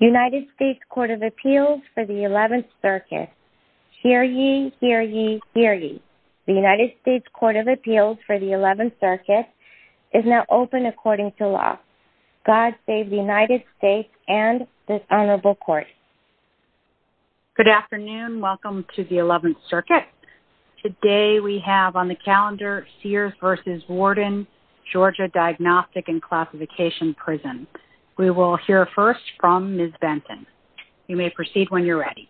United States Court of Appeals for the 11th Circuit. Hear ye, hear ye, hear ye. The United States Court of Appeals for the 11th Circuit is now open according to law. God save the United States and this honorable court. Good afternoon welcome to the 11th Circuit. Today we have on the calendar Sears v. Warden Georgia Diagnostic and Classification Prisons. We will hear first from Ms. Benton. You may proceed when you're ready.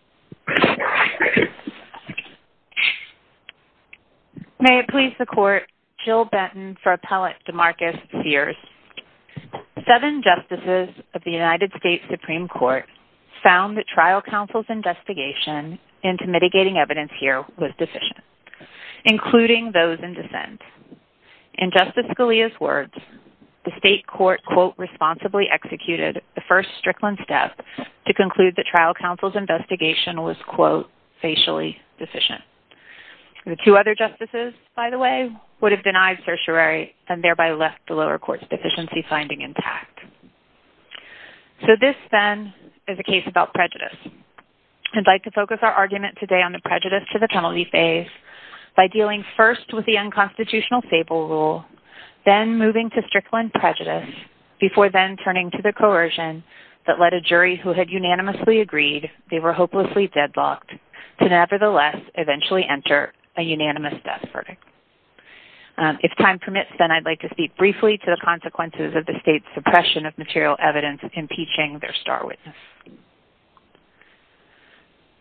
May it please the court, Jill Benton for appellate Demarcus Sears. Seven justices of the United States Supreme Court found that trial counsel's investigation into mitigating evidence here was deficient, including those in Lea's words, the state court quote responsibly executed the first Strickland step to conclude that trial counsel's investigation was quote facially deficient. The two other justices, by the way, would have denied certiorari and thereby left the lower court's deficiency finding intact. So this then is a case about prejudice. I'd like to focus our argument today on the prejudice to fatality phase by dealing first with the unconstitutional stable rule then moving to Strickland prejudice before then turning to the coercion that led a jury who had unanimously agreed they were hopelessly deadlocked to nevertheless eventually enter a unanimous death verdict. If time permits then I'd like to speak briefly to the consequences of the state's suppression of material evidence in teaching their star witness.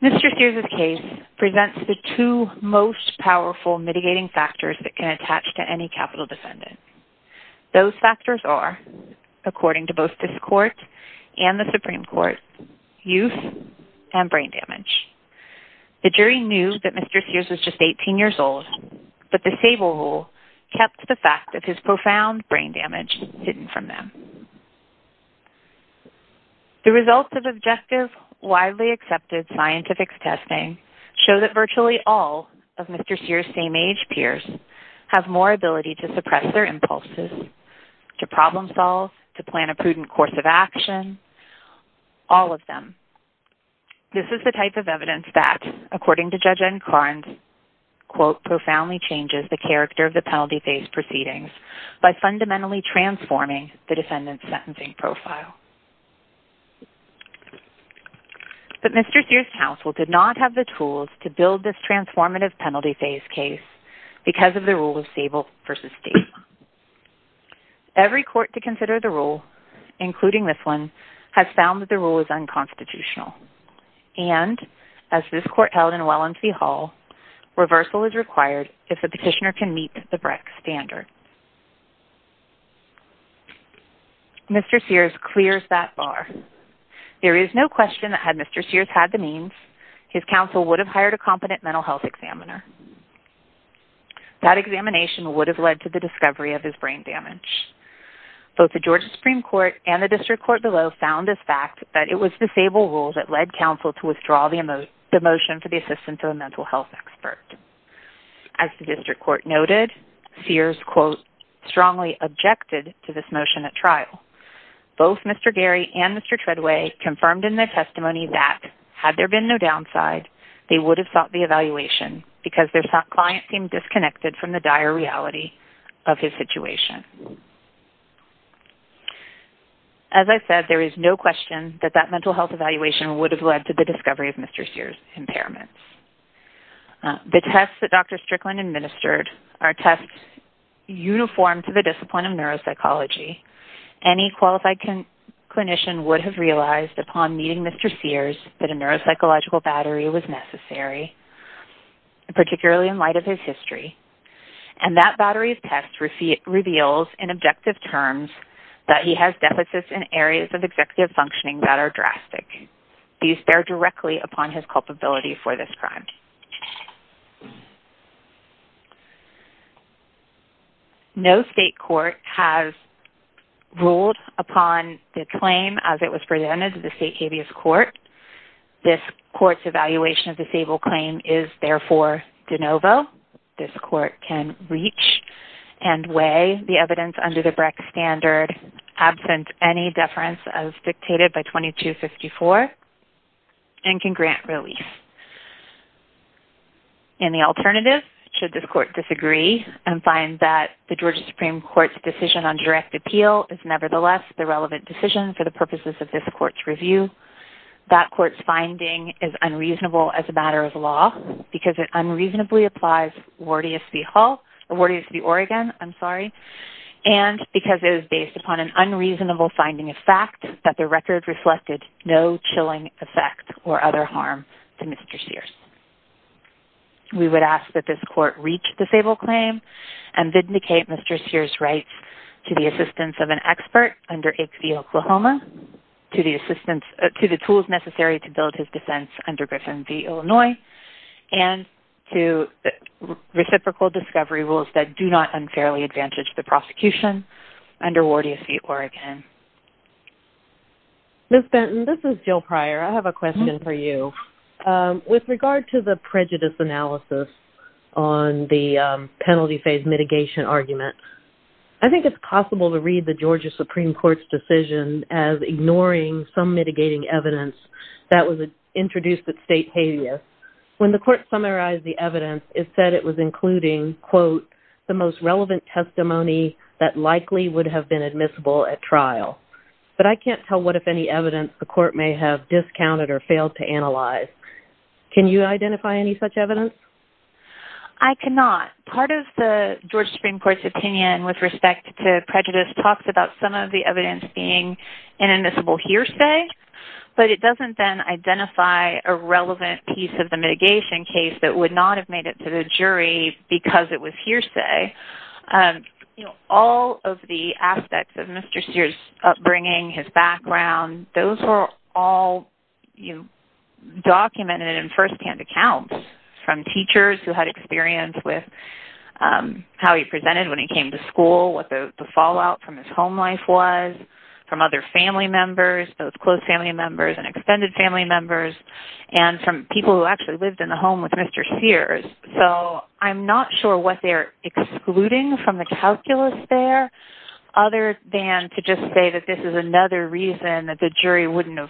Mr. Sears's case presents the two most powerful mitigating factors that can attach to any capital defendant. Those factors are, according to both this court and the Supreme Court, youth and brain damage. The jury knew that Mr. Sears was just 18 years old but the stable rule kept the fact that his profound brain damage hidden from them. The results of objective, widely accepted scientific testing show that virtually all of Mr. Sears' same-age peers have more ability to suppress their impulses, to problem-solve, to plan a prudent course of action, all of them. This is the type of evidence that, according to Judge N. Carnes, quote profoundly changes the character of the penalty phase proceedings by fundamentally transforming the defendant's sentencing profile. But Mr. Sears' counsel did not have the tools to build this transformative penalty phase case because of the rule of stable versus state. Every court to consider the rule, including this one, has found that the rule is unconstitutional and, as this court held in Wellensee Hall, reversal is possible. Mr. Sears clears that bar. There is no question that had Mr. Sears had the means, his counsel would have hired a competent mental health examiner. That examination would have led to the discovery of his brain damage. Both the Georgia Supreme Court and the District Court below found this fact that it was the stable rule that led counsel to withdraw the motion for the mental health expert. As the District Court noted, Sears, quote, strongly objected to this motion at trial. Both Mr. Gary and Mr. Treadway confirmed in their testimony that, had there been no downside, they would have sought the evaluation because their client seemed disconnected from the dire reality of his situation. As I said, there is no question that that mental health evaluation would have led to the discovery of Mr. Sears' impairments. The tests that Dr. Strickland administered are tests uniform to the discipline of neuropsychology. Any qualified clinician would have realized upon meeting Mr. Sears that a neuropsychological battery was necessary, particularly in light of his history, and that battery of tests reveals in objective terms that he has deficits in areas of executive functioning that are drastic. These bear directly upon his culpability for this crime. No state court has ruled upon the claim as it was presented to the state habeas court. This court's evaluation of the stable claim is therefore de novo. This court can reach and weigh the defendant's any deference as dictated by 2254 and can grant release. In the alternative, should this court disagree and find that the Georgia Supreme Court's decision on direct appeal is nevertheless the relevant decision for the purposes of this court's review, that court's finding is unreasonable as a matter of law because it unreasonably applies awardees the Oregon I'm sorry, and because it is based upon an unreasonable finding of fact that the record reflected no chilling effect or other harm to Mr. Sears. We would ask that this court reach the stable claim and vindicate Mr. Sears' rights to the assistance of an expert under HV Oklahoma, to the tools necessary to build his defense under Griffin v. Illinois, and to reciprocal discovery rules that do not unfairly advantage the prosecution under Wardia v. Oregon. Ms. Benton, this is Jill Pryor. I have a question for you. With regard to the prejudice analysis on the penalty phase mitigation argument, I think it's possible to read the Georgia Supreme Court's decision as ignoring some mitigating evidence that was introduced at state habeas. When the evidence is, quote, the most relevant testimony that likely would have been admissible at trial. But I can't tell what if any evidence the court may have discounted or failed to analyze. Can you identify any such evidence? I cannot. Part of the Georgia Supreme Court's opinion with respect to prejudice talks about some of the evidence being an admissible hearsay, but it doesn't then identify a relevant piece of the mitigation case that would not have made it to the jury because it was hearsay. You know, all of the aspects of Mr. Sears' upbringing, his background, those are all, you know, documented in firsthand accounts from teachers who had experience with how he presented when he came to school, what the fallout from his home life was, from other family members, those close family members and extended family members, and from people who actually lived in the Sears. So I'm not sure what they're excluding from the calculus there, other than to just say that this is another reason that the jury wouldn't have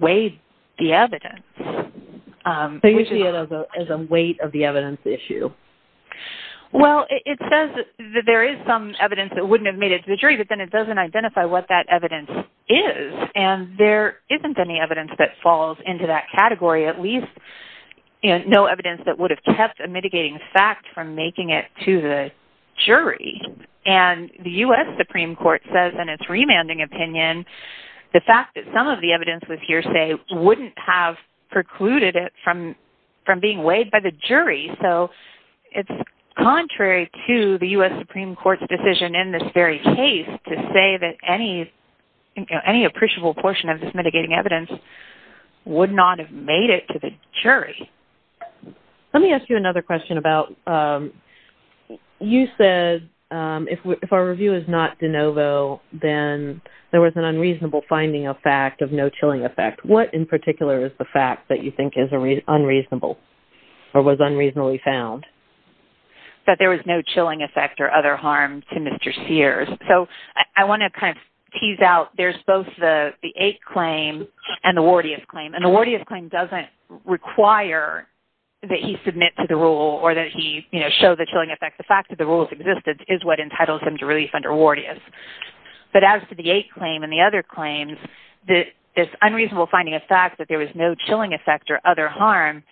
weighed the evidence. So you see it as a weight of the evidence issue? Well, it says that there is some evidence that wouldn't have made it to the jury, but then it doesn't identify what that evidence is, and there isn't any evidence that falls into that category, at least no evidence that would have kept a mitigating fact from making it to the jury. And the U.S. Supreme Court says in its remanding opinion, the fact that some of the evidence was hearsay wouldn't have precluded it from from being weighed by the jury. So it's contrary to the U.S. Supreme Court's decision in this very case to say that any appreciable portion of this mitigating evidence would not have made it to the jury. Let me ask you another question about, you said if our review is not de novo, then there was an unreasonable finding of fact of no chilling effect. What in particular is the fact that you think is unreasonable or was unreasonably found? That there was no chilling effect or other harm to Mr. Wardias' years. So I want to kind of tease out, there's both the the 8th claim and the Wardias' claim. And the Wardias' claim doesn't require that he submit to the rule or that he, you know, show the chilling effect. The fact that the rules existed is what entitles him to release under Wardias. But as to the 8th claim and the other claims, this unreasonable finding of fact that there was no chilling effect or other harm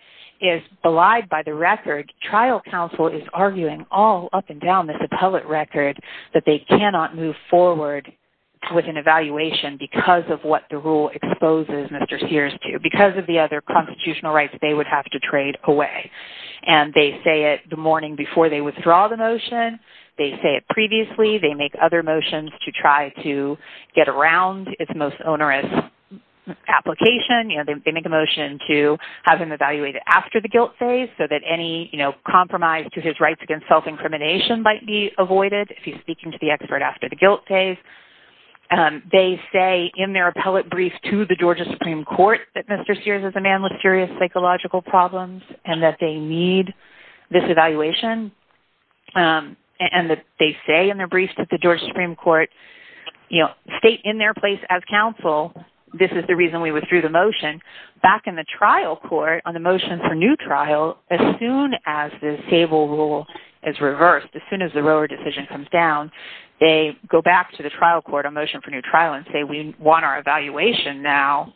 is belied by the record. Trial counsel is arguing all up and down this appellate record that they cannot move forward with an evaluation because of what the rule exposes Mr. Sears to. Because of the other constitutional rights they would have to trade away. And they say it the morning before they withdraw the motion. They say it previously. They make other motions to try to get around its most onerous application. You know, they make a motion to have him evaluated after the guilt phase so that any, you know, compromise to his rights against self-incrimination might be avoided if he's speaking to the expert after the guilt phase. They say in their appellate brief to the Georgia Supreme Court that Mr. Sears is a man with serious psychological problems and that they need this evaluation. And they say in their brief to the Georgia Supreme Court, you know, state in their place as counsel, this is the reason we withdrew the motion, back in the trial court on the motion for new trial, as the stable rule is reversed. As soon as the rower decision comes down, they go back to the trial court on motion for new trial and say we want our evaluation now.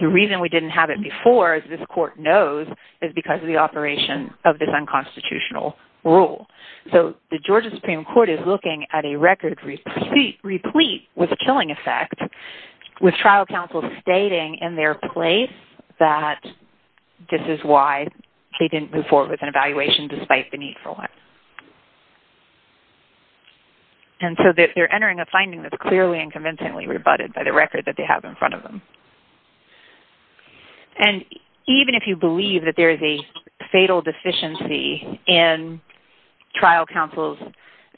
The reason we didn't have it before, as this court knows, is because of the operation of this unconstitutional rule. So the Georgia Supreme Court is looking at a record replete with a killing effect, with trial counsel stating in their place that this is why he didn't move forward with an evaluation despite the need for one. And so they're entering a finding that's clearly and convincingly rebutted by the record that they have in front of them. And even if you believe that there's a fatal deficiency in trial counsel's,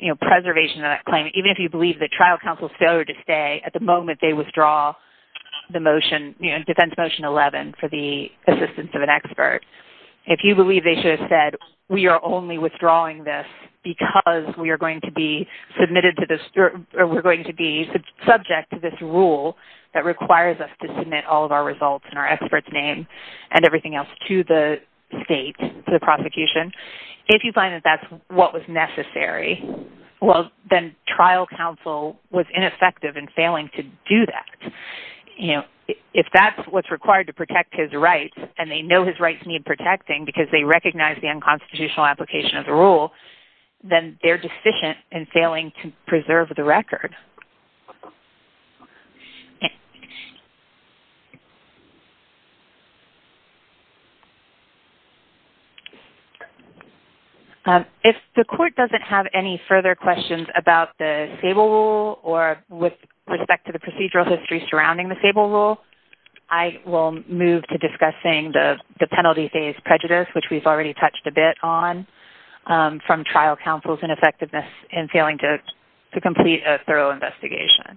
you know, preservation of that claim, even if you believe that trial counsel's failure to withdraw the motion, you know, defense motion 11 for the assistance of an expert, if you believe they should have said we are only withdrawing this because we are going to be submitted to this, or we're going to be subject to this rule that requires us to submit all of our results in our experts name and everything else to the state, to the prosecution, if you find that that's what was necessary, well you know, if that's what's required to protect his rights and they know his rights need protecting because they recognize the unconstitutional application of the rule, then they're deficient in failing to preserve the record. If the court doesn't have any further questions about the stable rule or with respect to the procedural history surrounding the stable rule, I will move to discussing the penalty phase prejudice, which we've already touched a bit on, from trial counsel's ineffectiveness in failing to complete a thorough investigation.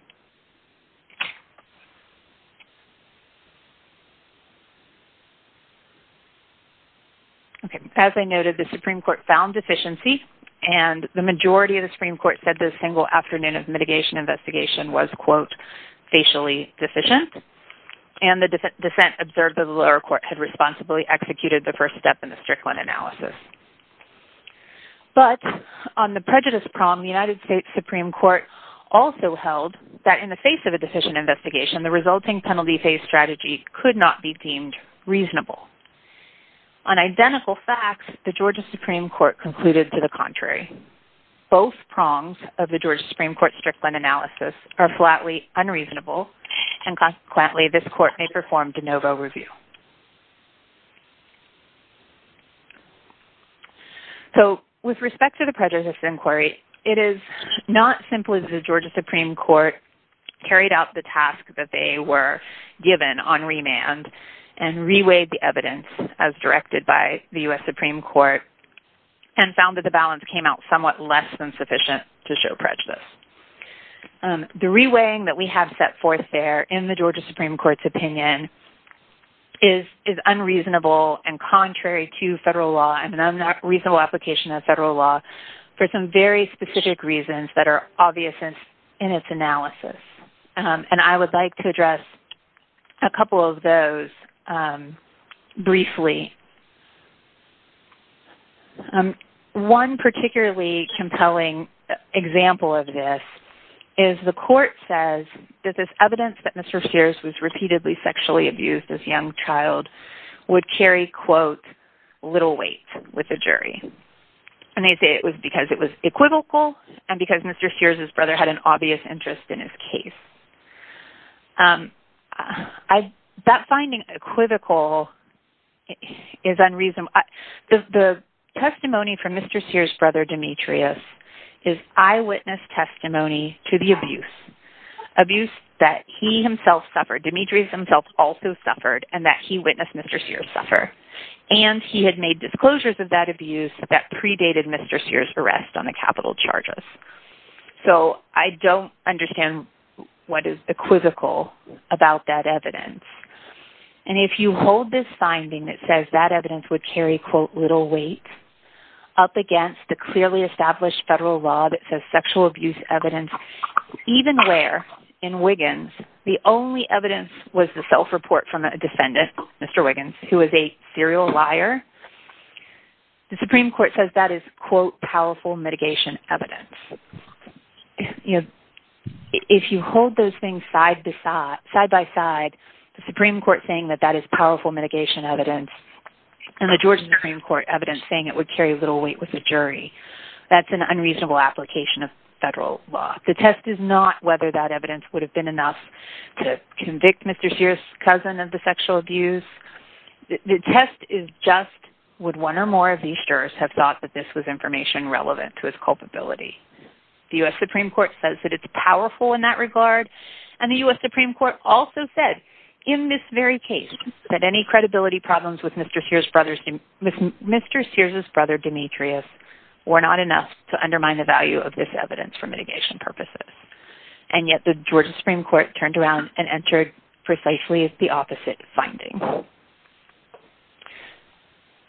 Okay, as I noted, the Supreme Court found deficiency and the majority of the investigation was quote, facially deficient, and the dissent observed that the lower court had responsibly executed the first step in the Strickland analysis. But on the prejudice prong, the United States Supreme Court also held that in the face of a deficient investigation, the resulting penalty phase strategy could not be deemed reasonable. On identical facts, the Georgia Supreme Court concluded to the contrary. Both prongs of the Georgia Supreme Court Strickland analysis are flatly unreasonable and consequently this court may perform de novo review. So with respect to the prejudice inquiry, it is not simple as the Georgia Supreme Court carried out the task that they were given on remand and reweighed the evidence as directed by the US Supreme Court and found that the balance came out somewhat less than sufficient to the reweighing that we have set forth there in the Georgia Supreme Court's opinion is unreasonable and contrary to federal law and I'm not reasonable application of federal law for some very specific reasons that are obvious in its analysis. And I would like to address a couple of those briefly. One particularly compelling example of this is the court says that this evidence that Mr. Sears was repeatedly sexually abused as young child would carry quote little weight with the jury. And they say it was because it was equivocal and because Mr. Sears' brother had an obvious interest in his case. That finding equivocal is eyewitness testimony to the abuse. Abuse that he himself suffered, Demetrius himself also suffered, and that he witnessed Mr. Sears suffer. And he had made disclosures of that abuse that predated Mr. Sears' arrest on the capital charges. So I don't understand what is equivocal about that evidence. And if you hold this finding that says that evidence would carry quote little weight up against the clearly established federal law that says sexual abuse evidence, even where in Wiggins the only evidence was the self-report from a defendant, Mr. Wiggins, who was a serial liar, the Supreme Court says that is quote powerful mitigation evidence. If you hold those things side by side, the Supreme Court saying that that is powerful mitigation evidence and the Supreme Court evidence saying it would carry little weight with the jury, that's an unreasonable application of federal law. The test is not whether that evidence would have been enough to convict Mr. Sears' cousin of the sexual abuse. The test is just would one or more of these jurors have thought that this was information relevant to his culpability. The U.S. Supreme Court says that it's powerful in that regard and the U.S. Supreme Court also said in this very case that any credibility problems with Mr. Sears' brother Demetrius were not enough to undermine the value of this evidence for mitigation purposes. And yet the Georgia Supreme Court turned around and entered precisely the opposite finding.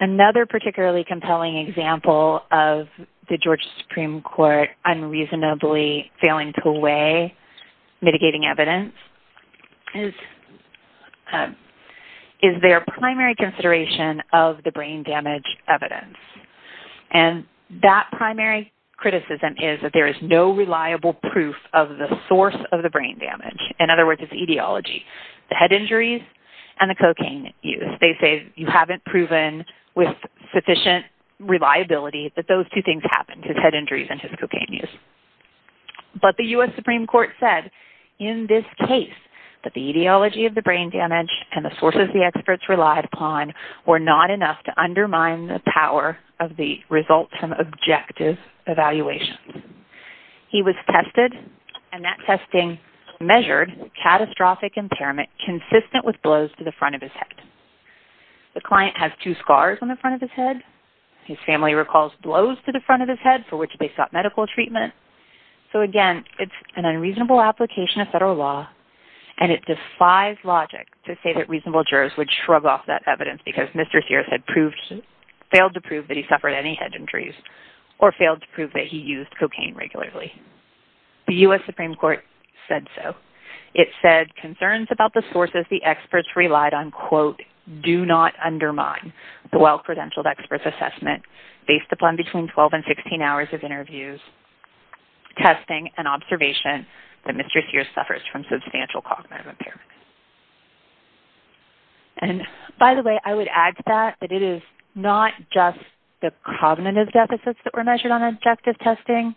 Another particularly compelling example of the is their primary consideration of the brain damage evidence. And that primary criticism is that there is no reliable proof of the source of the brain damage. In other words, it's etiology. The head injuries and the cocaine use. They say you haven't proven with sufficient reliability that those two things happened, his head injuries and his cocaine use. But the U.S. Supreme Court said in this case that the etiology of the brain damage and the sources the experts relied upon were not enough to undermine the power of the results and objective evaluation. He was tested and that testing measured catastrophic impairment consistent with blows to the front of his head. The client has two scars on the front of his head. His family recalls blows to the front of his head for which they sought medical treatment. So again, it's an unreasonable application of federal law and it defies logic to say that reasonable jurors would shrug off that evidence because Mr. Sears had failed to prove that he suffered any head injuries or failed to prove that he used cocaine regularly. The U.S. Supreme Court said so. It said concerns about the sources the experts relied on, quote, do not undermine the well-credentialed experts assessment based upon between 12 and 16 hours of interviews, testing, and observation that Mr. Sears suffers from substantial cognitive impairment. And by the way, I would add to that that it is not just the cognitive deficits that were measured on objective testing.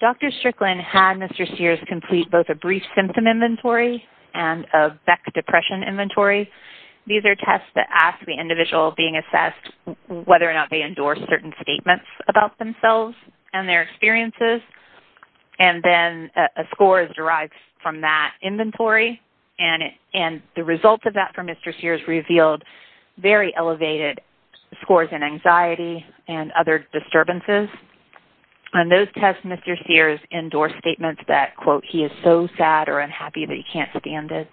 Dr. Strickland had Mr. Sears complete both a brief symptom inventory and a Beck depression inventory. These are tests that ask the jurors certain statements about themselves and their experiences, and then a score is derived from that inventory, and the results of that for Mr. Sears revealed very elevated scores in anxiety and other disturbances. On those tests, Mr. Sears endorsed statements that, quote, he is so sad or unhappy that he can't stand it,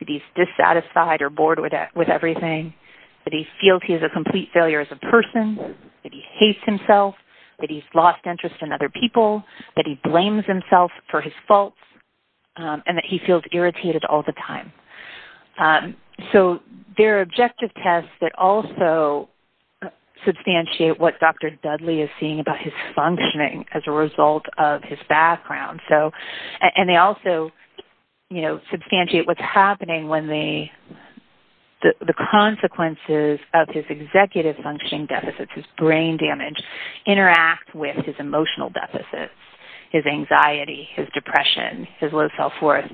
that he's dissatisfied or bored with everything, that he feels he's a complete failure as a person, that he hates himself, that he's lost interest in other people, that he blames himself for his faults, and that he feels irritated all the time. So there are objective tests that also substantiate what Dr. Dudley is seeing about his functioning as a result of his background, and they also, you know, substantiate what's happening when the consequences of his executive functioning deficits, his brain damage, interact with his emotional deficits, his anxiety, his depression, his low self-worth.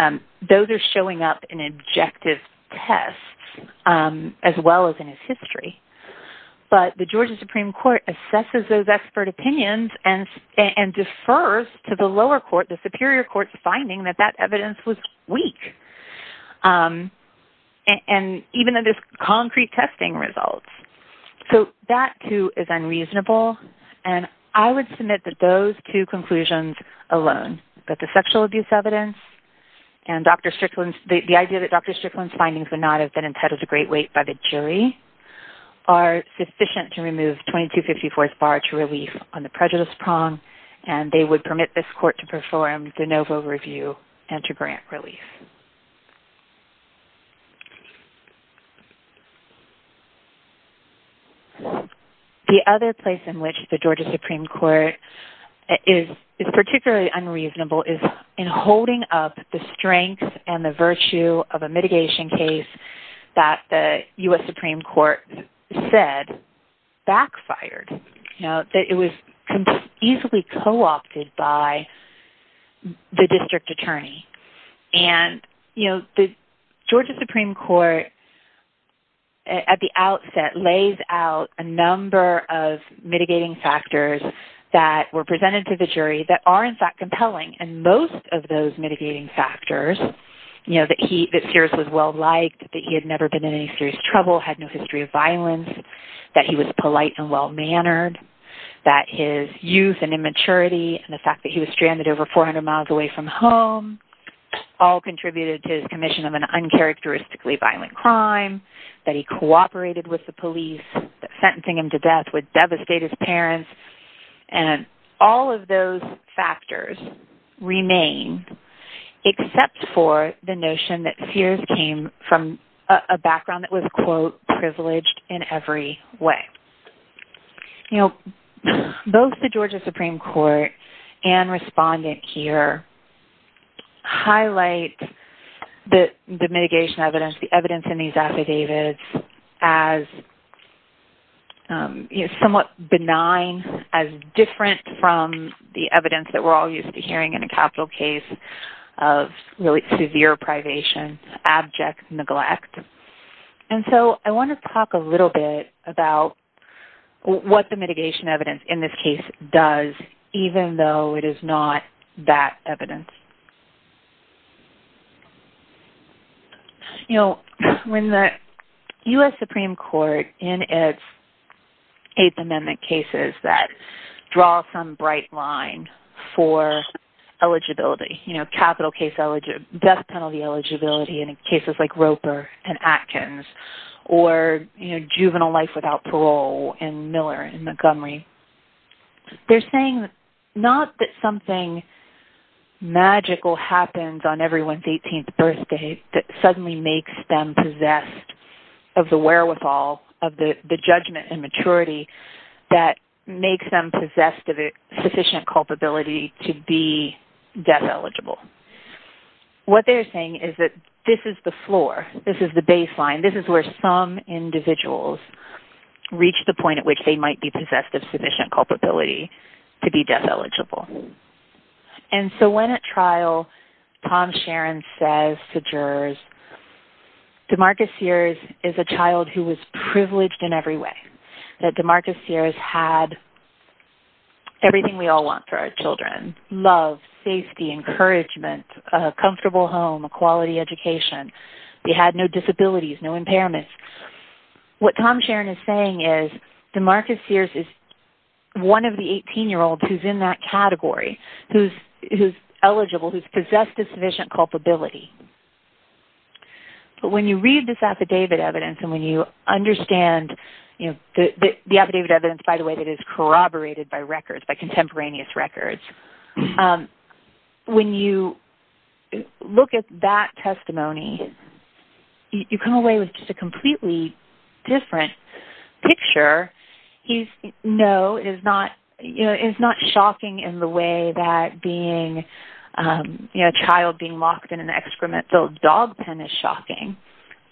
Those are showing up in objective tests as well as in his history, but the Georgia Supreme Court assesses those expert opinions and defers to the lower court, the Superior Court, finding that that evidence was weak, and even in this concrete testing results. So that, too, is unreasonable, and I would submit that those two conclusions alone, that the sexual abuse evidence and Dr. Strickland's, the idea that Dr. Strickland's findings would not have been impeded to great weight by the jury, are sufficient to remove 2254th bar to relief on the prejudice prong, and they would permit this court to perform de justice. The other place in which the Georgia Supreme Court is particularly unreasonable is in holding up the strength and the virtue of a mitigation case that the U.S. Supreme Court said backfired, you know, that it was easily co-opted by the district attorney. And, you know, the Georgia Supreme Court at the outset lays out a number of mitigating factors that were presented to the jury that are, in fact, compelling, and most of those mitigating factors, you know, that he, that Sears was well-liked, that he had never been in any serious trouble, had no history of violence, that he was polite and well-mannered, that his youth and immaturity and the fact that he was stranded over 400 miles away from home all contributed to his commission of an uncharacteristically violent crime, that he cooperated with the police, that sentencing him to death would devastate his parents, and all of those factors remain except for the notion that Sears came from a background that was, quote, privileged in every way. You know, both the Georgia Supreme Court and respondent here highlight that the mitigation evidence, the evidence in these affidavits as, you know, somewhat benign, as different from the evidence that we're all used to hearing in a capital case of really severe privation, abject neglect. And so I want to talk a little bit about what the mitigation evidence in this case does, even though it is not that evidence. You know, when the U.S. Supreme Court in its Eighth Amendment cases that draw some bright line for eligibility, you know, capital case eligibility, death penalty eligibility in cases like Roper and Atkins, or, you know, juvenile life without Montgomery, they're saying not that something magical happens on everyone's 18th birthday that suddenly makes them possessed of the wherewithal of the judgment and maturity that makes them possessed of a sufficient culpability to be death eligible. What they're saying is that this is the floor, this is the baseline, this is where some individuals reach the point at which they might be possessed of sufficient culpability to be death eligible. And so when at trial, Tom Sharon says to jurors, DeMarcus Sears is a child who was privileged in every way, that DeMarcus Sears had everything we all want for our children, love, safety, encouragement, a comfortable home, a quality education. We had no disabilities, no impairments. What Tom Sharon is saying is DeMarcus Sears is one of the 18-year-olds who's in that category, who's eligible, who's possessed of sufficient culpability. But when you read this affidavit evidence and when you understand, you know, the affidavit evidence, by the way, that is corroborated by records, by contemporaneous records, when you look at that testimony, you come away with just a completely different picture. He's, no, it is not, you know, it's not shocking in the way that being, you know, a child being locked in an excrement-filled dog pen is shocking,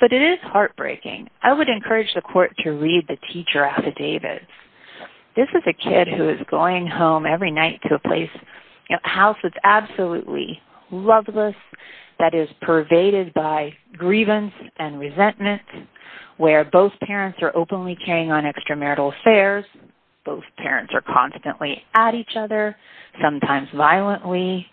but it is heartbreaking. I would encourage the court to read the teacher affidavits. This is a kid who is going home every night to a place, a house that's absolutely loveless, that is pervaded by resentment, where both parents are openly carrying on extramarital affairs, both parents are constantly at each other, sometimes violently,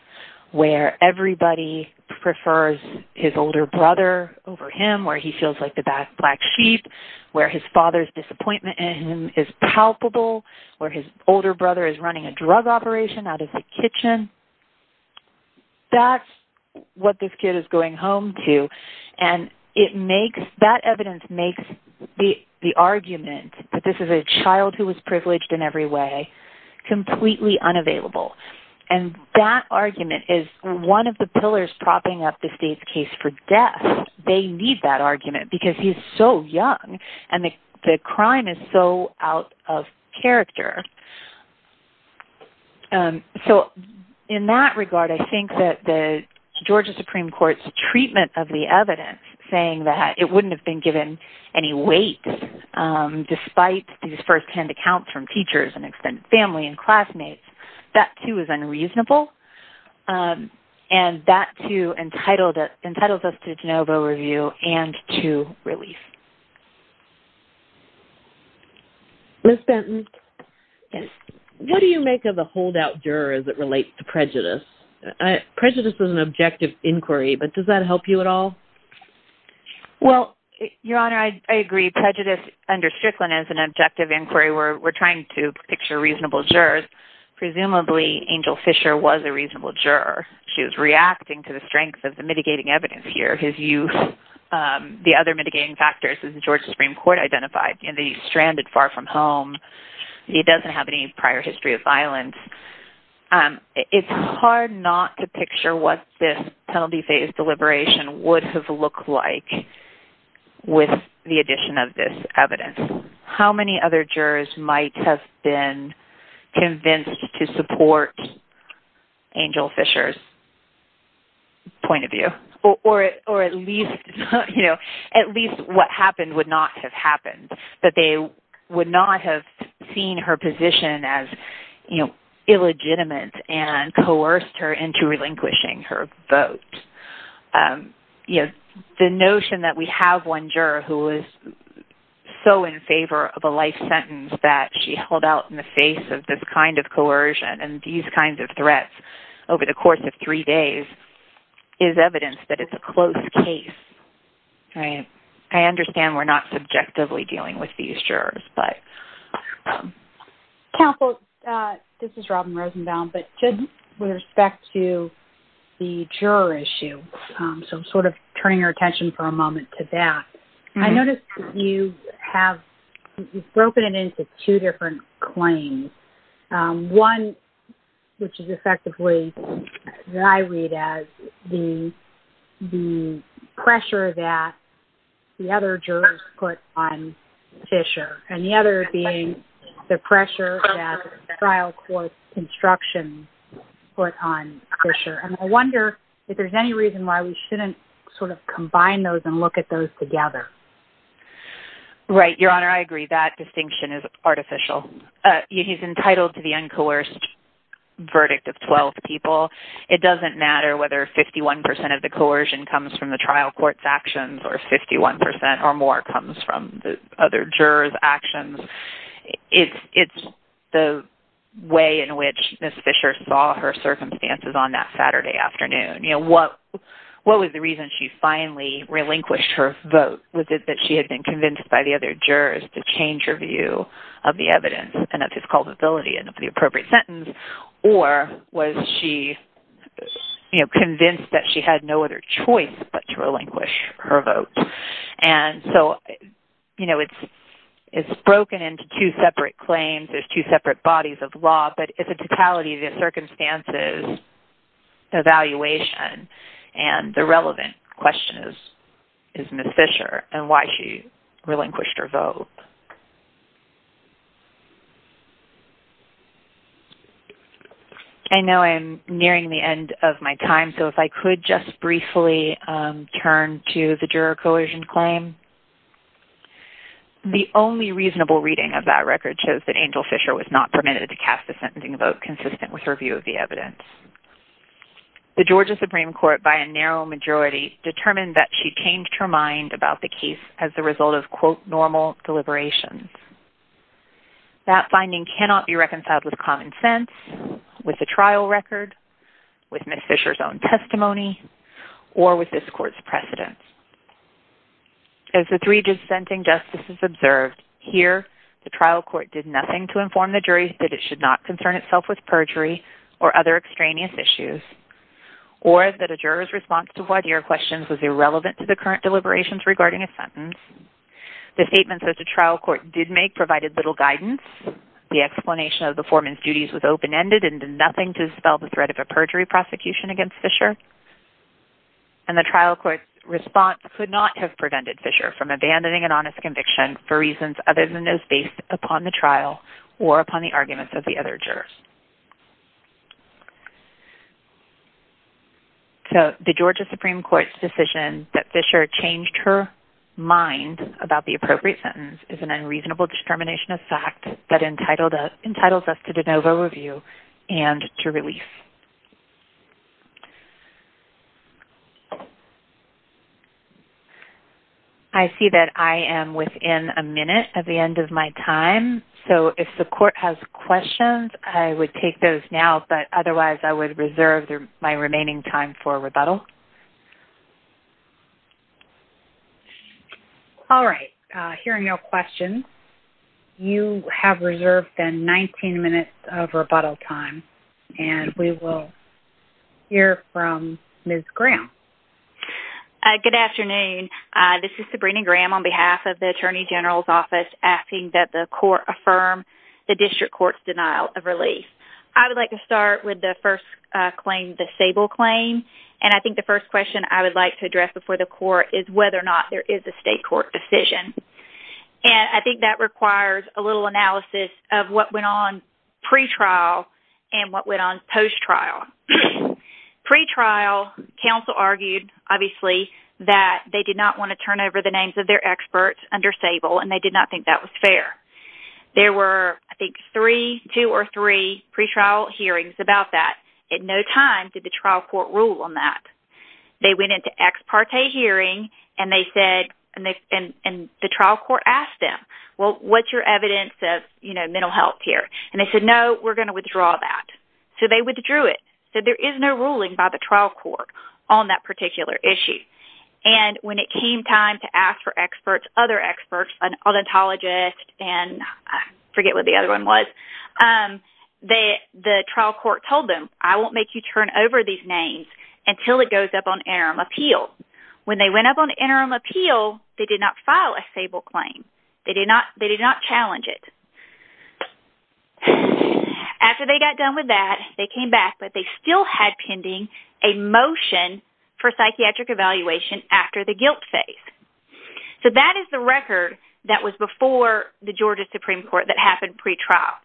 where everybody prefers his older brother over him, where he feels like the bad black sheep, where his father's disappointment in him is palpable, where his older brother is running a drug operation out of the kitchen. That's what this kid is going home to, and that evidence makes the argument that this is a child who was privileged in every way completely unavailable, and that argument is one of the pillars propping up the state's case for death. They need that argument because he's so young, and the crime is so out of character. So in that regard, I think the treatment of the evidence, saying that it wouldn't have been given any weight despite these first-hand accounts from teachers and extended family and classmates, that too is unreasonable, and that too entitles us to a de novo review and to release. Ms. Benton, what do you make of a holdout juror as it relates to prejudice? Prejudice is an objective inquiry, but does that help you at all? Well, Your Honor, I agree. Prejudice under Strickland is an objective inquiry. We're trying to picture reasonable jurors. Presumably, Angel Fisher was a reasonable juror. She was reacting to the strength of the mitigating evidence here. His youth, the other mitigating factors, as the Georgia Supreme Court identified, and he's stranded far from home. He doesn't have any prior history of violence. It's hard not to picture what this penalty phase deliberation would have looked like with the addition of this evidence. How many other jurors might have been convinced to support Angel Fisher's point of view? Or at least, you know, at least what happened would not have happened, that they would not have seen her position as, you know, illegitimate and coerced her into relinquishing her vote. You know, the notion that we have one juror who is so in favor of a life sentence that she held out in the face of this kind of coercion and these kinds of threats over the course of three days is evidence that it's a closed case, right? I understand we're not subjectively dealing with these jurors, but... Counsel, this is Robin Rosenbaum, but just with respect to the juror issue, so I'm sort of turning our attention for a moment to that. I noticed you have broken it into two different claims. One, which is effectively, that I read as, the pressure that the other jurors put on Fisher, and the other being the pressure that trial court instruction put on Fisher, and I wonder if there's any reason why we shouldn't sort of combine those and look at those together. Right, Your Honor, I agree that distinction is artificial. He's entitled to the uncoerced verdict of 12 people. It doesn't matter whether 51% of the coercion comes from the trial court's actions or 51% or more comes from the other jurors' actions. It's the way in which Ms. Fisher saw her circumstances on that Saturday afternoon. You know, what was the reason she finally relinquished her vote? Was it that she had been convinced by the other jurors to change her view of the evidence and of his culpability and of the appropriate sentence, or was she, you know, trying to convince the other jurors to relinquish her vote? And so, you know, it's broken into two separate claims, there's two separate bodies of law, but it's a totality of the circumstances, the evaluation, and the relevant question is Ms. Fisher, and why she relinquished her vote. I know I'm nearing the end of my time, so if I could just briefly turn to the juror coercion claim. The only reasonable reading of that record shows that Angel Fisher was not permitted to cast a sentencing vote consistent with her view of the evidence. The Georgia Supreme Court, by a narrow majority, determined that she changed her mind about the case as the result of, quote, normal deliberations. That finding cannot be reconciled with common sense, with the trial record, with Ms. Fisher's own testimony, or with this court's precedent. As the three dissenting justices observed, here, the trial court did nothing to inform the jury that it should not concern itself with perjury or other extraneous issues, or that a juror's response to voir dire questions was The trial court did make provided little guidance. The explanation of the foreman's duties was open-ended and did nothing to dispel the threat of a perjury prosecution against Fisher, and the trial court's response could not have prevented Fisher from abandoning an honest conviction for reasons other than as based upon the trial or upon the arguments of the other jurors. So, the Georgia Supreme Court's decision that Fisher changed her mind about the appropriate sentence is an unreasonable discrimination of fact that entitled us to de novo review and to release. I see that I am within a minute at the end of my time, so if the court has questions, I would take those now, but otherwise I would reserve my remaining time for rebuttal. All right, hearing no questions, you have reserved then 19 minutes of rebuttal time, and we will hear from Ms. Graham. Good afternoon, this is Sabrina Graham on behalf of the Attorney General's office asking that the court affirm the district court's denial of release. I would like to start with the first claim, the Sable claim, and I think the first question I would like to address before the court is whether or not there is a state court decision, and I think that requires a little analysis of what went on pre-trial and what went on post-trial. Pre-trial, counsel argued, obviously, that they did not want to turn over the names of their experts under Sable, and they did not think that was fair. There were, I think, three, two or three pre-trial hearings about that. At no time did the trial court rule on that. They went into ex parte hearing, and they said, and the trial court asked them, well, what's your evidence of, you know, mental health here, and they said, no, we're going to withdraw that. So they withdrew it. So there is no ruling by the trial court on that particular issue, and when it came time to ask for experts, other experts, an odontologist, and I forget what the other one was, the trial court told them, I won't make you turn over these names until it goes up on interim appeal. When they went up on interim appeal, they did not file a Sable claim. They did not challenge it. After they got done with that, they came back, but they still had pending a motion for psychiatric evaluation after the trial. So this is the record that was before the Georgia Supreme Court that happened pre-trial.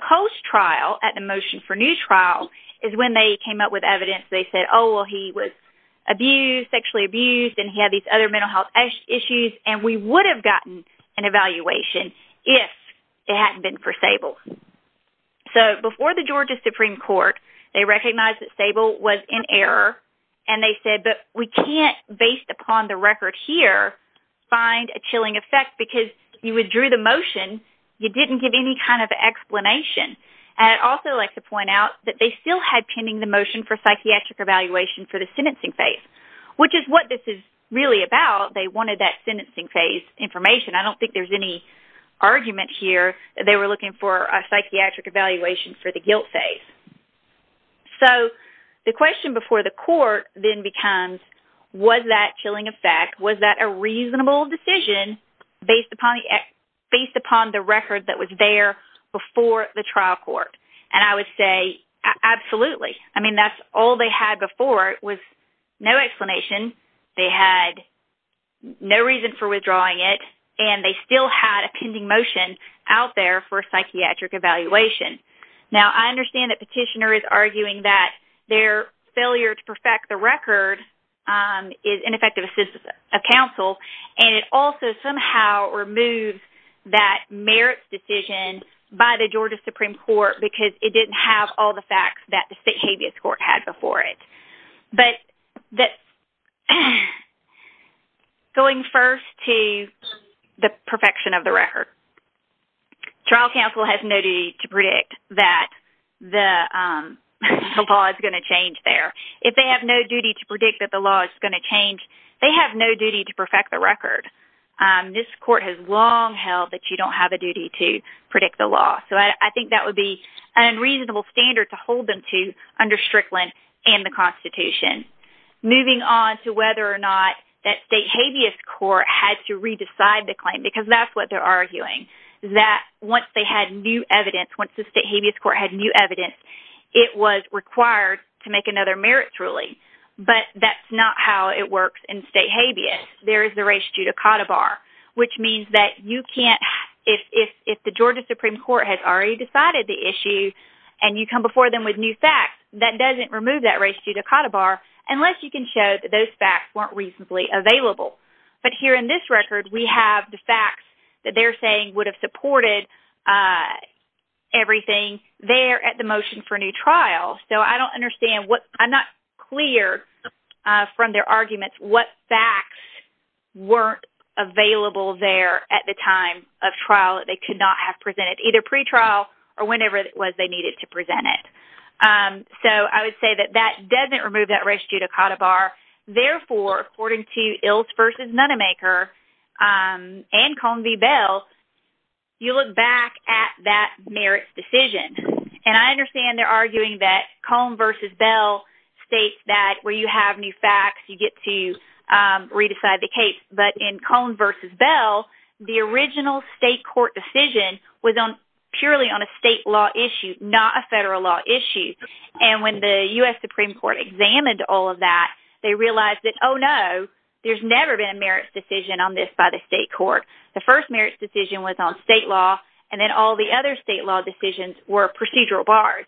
Post-trial, at the motion for new trial, is when they came up with evidence. They said, oh, well, he was abused, sexually abused, and he had these other mental health issues, and we would have gotten an evaluation if it hadn't been for Sable. So before the Georgia Supreme Court, they recognized that Sable was in error, and they said, but we can't, based upon the record here, find a killing effect because you withdrew the motion. You didn't give any kind of explanation. I'd also like to point out that they still had pending the motion for psychiatric evaluation for the sentencing phase, which is what this is really about. They wanted that sentencing phase information. I don't think there's any argument here that they were looking for a psychiatric evaluation for the guilt phase. So the question before the court then becomes, was that killing effect? Was that a reasonable decision based upon the record that was there before the trial court? And I would say, absolutely. I mean, that's all they had before. It was no explanation. They had no reason for withdrawing it, and they still had a pending motion out there for psychiatric evaluation. Now, I understand that Petitioner is arguing that their failure to perfect the record is ineffective assistance of counsel, and it also somehow removed that merits decision by the Georgia Supreme Court because it didn't have all the facts that the state habeas court had before it. But going first to the perfection of the record, trial counsel has no need to predict that the law is going to change there. If they have no duty to predict that the law is going to change, they have no duty to perfect the record. This court has long held that you don't have a duty to predict the law. So I think that would be an unreasonable standard to hold them to under Strickland and the Constitution. Moving on to whether or not that state habeas court had to re-decide the claim, because that's what they're arguing, that once they had new evidence, it was required to make another merits ruling. But that's not how it works in state habeas. There is the res judicata bar, which means that if the Georgia Supreme Court has already decided the issue and you come before them with new facts, that doesn't remove that res judicata bar unless you can show that those facts weren't reasonably available. But here in this record, we supported everything there at the motion for a new trial. So I don't understand what, I'm not clear from their arguments what facts weren't available there at the time of trial that they could not have presented, either pre-trial or whenever it was they needed to present it. So I would say that that doesn't remove that res judicata bar. Therefore, according to Ilse versus Nonemaker and Cone v. Bell, you look back at that merits decision. And I understand they're arguing that Cone versus Bell states that where you have new facts, you get to re-decide the case. But in Cone versus Bell, the original state court decision was purely on a state law issue, not a federal law issue. And when the U.S. Supreme Court examined all of that, they realized that, oh, there's never been a merits decision on this by the state court. The first merits decision was on state law, and then all the other state law decisions were procedural bars.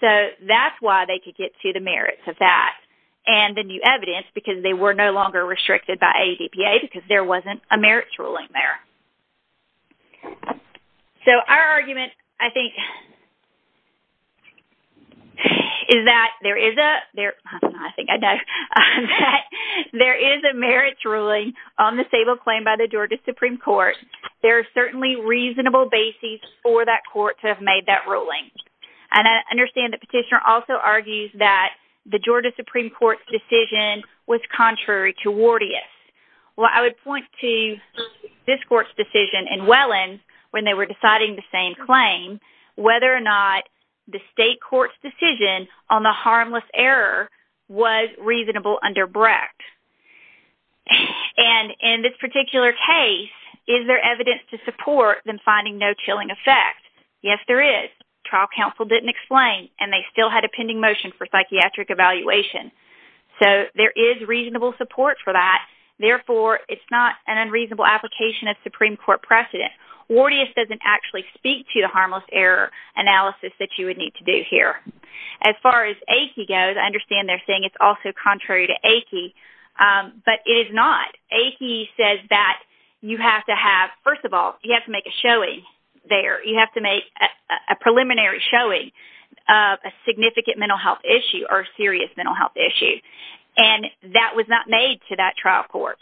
So that's why they could get to the merits of that and the new evidence, because they were no longer restricted by ADPA because there wasn't a merits ruling there. So our argument, I think, is that there is a merits ruling on the stable claim by the Georgia Supreme Court. There are certainly reasonable bases for that court to have made that ruling. And I understand the petitioner also argues that the Georgia Supreme Court's decision was contrary to Wardia's. Well, I would point to this court's decision in Welland when they were deciding the same claim, which whether or not the state court's decision on the harmless error was reasonable under Brecht. And in this particular case, is there evidence to support them finding no chilling effect? Yes, there is. Trial counsel didn't explain, and they still had a pending motion for psychiatric evaluation. So there is reasonable support for that. Therefore, it's not an unreasonable application of Supreme Court precedent. Wardia doesn't actually speak to the analysis that you would need to do here. As far as ACI goes, I understand they're saying it's also contrary to ACI, but it is not. ACI says that you have to have, first of all, you have to make a showing there. You have to make a preliminary showing of a significant mental health issue or a serious mental health issue. And that was not made to that trial court.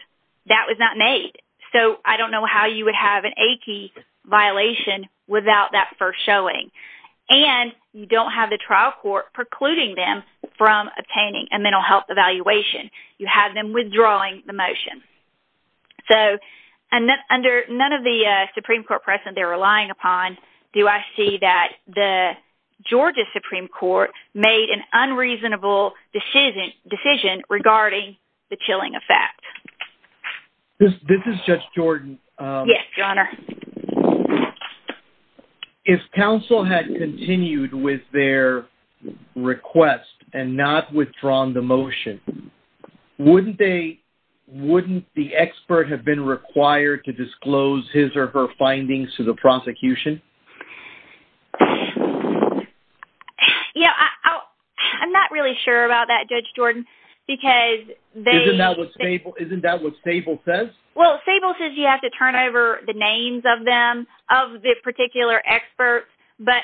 That was not made. So I don't know how you would have an ACI violation without that first showing. And you don't have the trial court precluding them from obtaining a mental health evaluation. You have them withdrawing the motion. So under none of the Supreme Court precedent they're relying upon, do I see that the Georgia Supreme Court made an unreasonable decision regarding the If counsel had continued with their request and not withdrawn the motion, wouldn't the expert have been required to disclose his or her findings to the prosecution? Yeah, I'm not really sure about that, Judge Jordan. Isn't that what Stable says? Well, Stable says you have to turn over the names of them, of this particular expert. But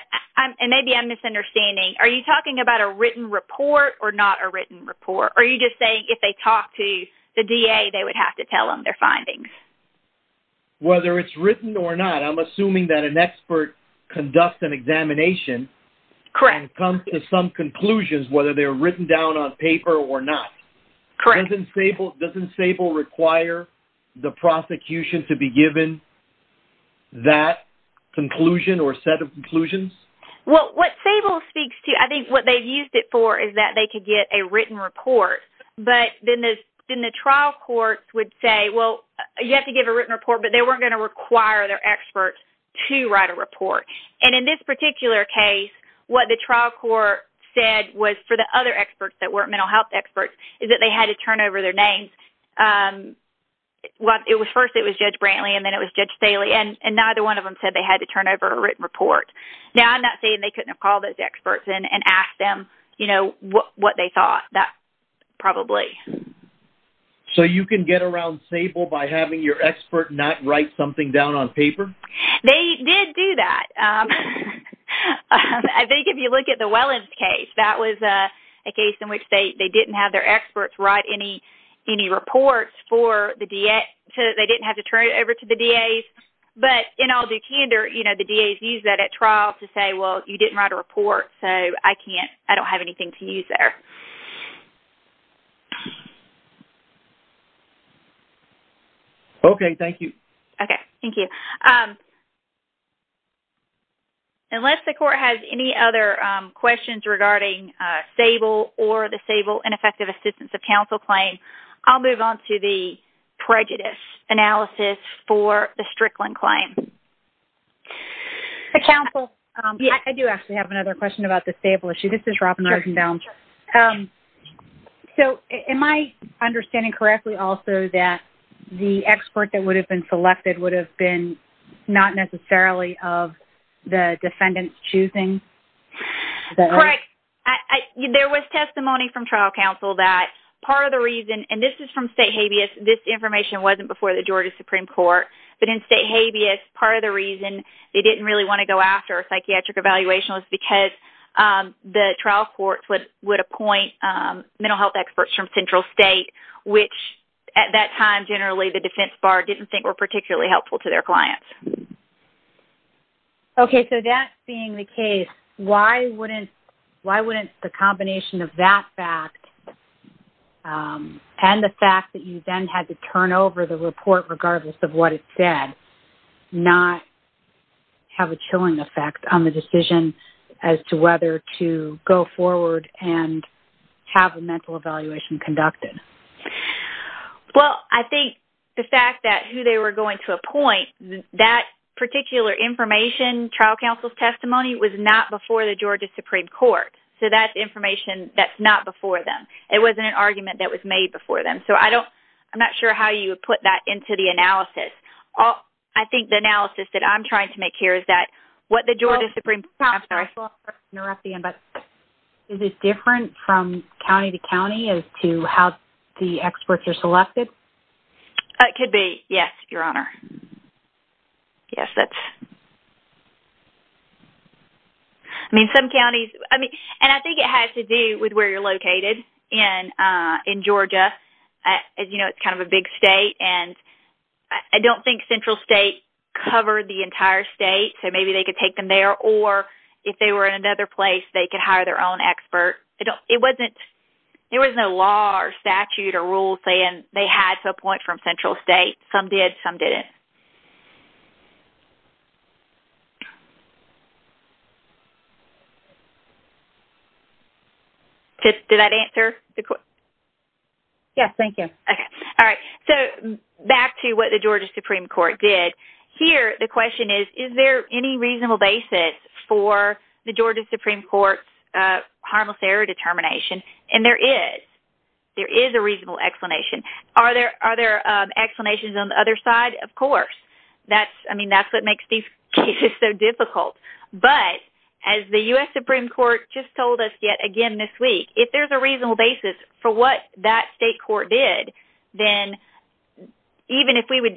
maybe I'm misunderstanding. Are you talking about a written report or not a written report? Are you just saying if they talked to the DA they would have to tell them their findings? Whether it's written or not, I'm assuming that an expert conducts an examination and comes to some conclusions whether they're written down on paper or not. Doesn't Stable require the prosecution to be given that conclusion or set of conclusions? Well, what Stable speaks to, I think what they've used it for is that they could get a written report. But then the trial courts would say, well, you have to give a written report, but they weren't going to require their experts to write a report. And in this particular case, what the trial court said was for the other experts that weren't mental health experts is they had to turn over their names. First it was Judge Brantley and then it was Judge Staley. And neither one of them said they had to turn over a written report. Now, I'm not saying they couldn't have called those experts and asked them what they thought. That's probably. So you can get around Stable by having your expert not write something down on paper? They did do that. I think if you look at the Wellens case, that was a case in which they didn't have their experts write any reports for the DA. So they didn't have to turn it over to the DAs. But in all due candor, the DAs use that at trial to say, well, you didn't write a report. So I don't have anything to use there. OK, thank you. OK, thank you. Unless the court has any other questions regarding Stable or the Stable, Ineffective Assistance of Counsel claim, I'll move on to the prejudice analysis for the Strickland claim. I do actually have another question about the Stable issue. This is Robin Eisenbaum. So am I understanding correctly also that the expert that would have been selected would have been not necessarily of the defendant's choosing? Correct. There was testimony from counsel that part of the reason, and this is from state habeas, this information wasn't before the Georgia Supreme Court. But in state habeas, part of the reason they didn't really want to go after a psychiatric evaluation was because the trial courts would appoint mental health experts from central state, which at that time, generally, the defense bar didn't think were particularly helpful to their clients. OK, so that being the case, why wouldn't the combination of that fact and the fact that you then had to turn over the report, regardless of what it said, not have a chilling effect on the decision as to whether to go forward and have a mental evaluation conducted? Well, I think the fact that who they were going to appoint, that particular information, trial counsel's testimony, was not before the Georgia Supreme Court. So that's information that's not before them. It wasn't an argument that was made before them. So I don't, I'm not sure how you would put that into the analysis. I think the analysis that I'm trying to make here is that what the Georgia Supreme Court... I'm sorry to interrupt again, but is this different from county to county as to how the experts are selected? It could be, yes, Your Honor. Yes, that's... I mean, some counties, I mean, and I think it has to do with where you're located in Georgia. As you know, it's kind of a big state, and I don't think central state covered the entire state. So maybe they could take them there, or if they were in another place, they could hire their own expert. It wasn't, there was no law or statute or rule saying they had to appoint from central state. Some did, some didn't. Did that answer the question? Yes, thank you. Okay. All right. So back to what the Georgia Supreme Court did. Here, the question is, is there any reasonable basis for the Georgia Supreme Court's harmless error determination? And there is. There is a reasonable explanation. Are there explanations on the other side? Of course. That's, I mean, that's what makes these cases so difficult. But as the U.S. Supreme Court just told us yet again this week, if there's a reasonable basis for what that state court did, then even if we would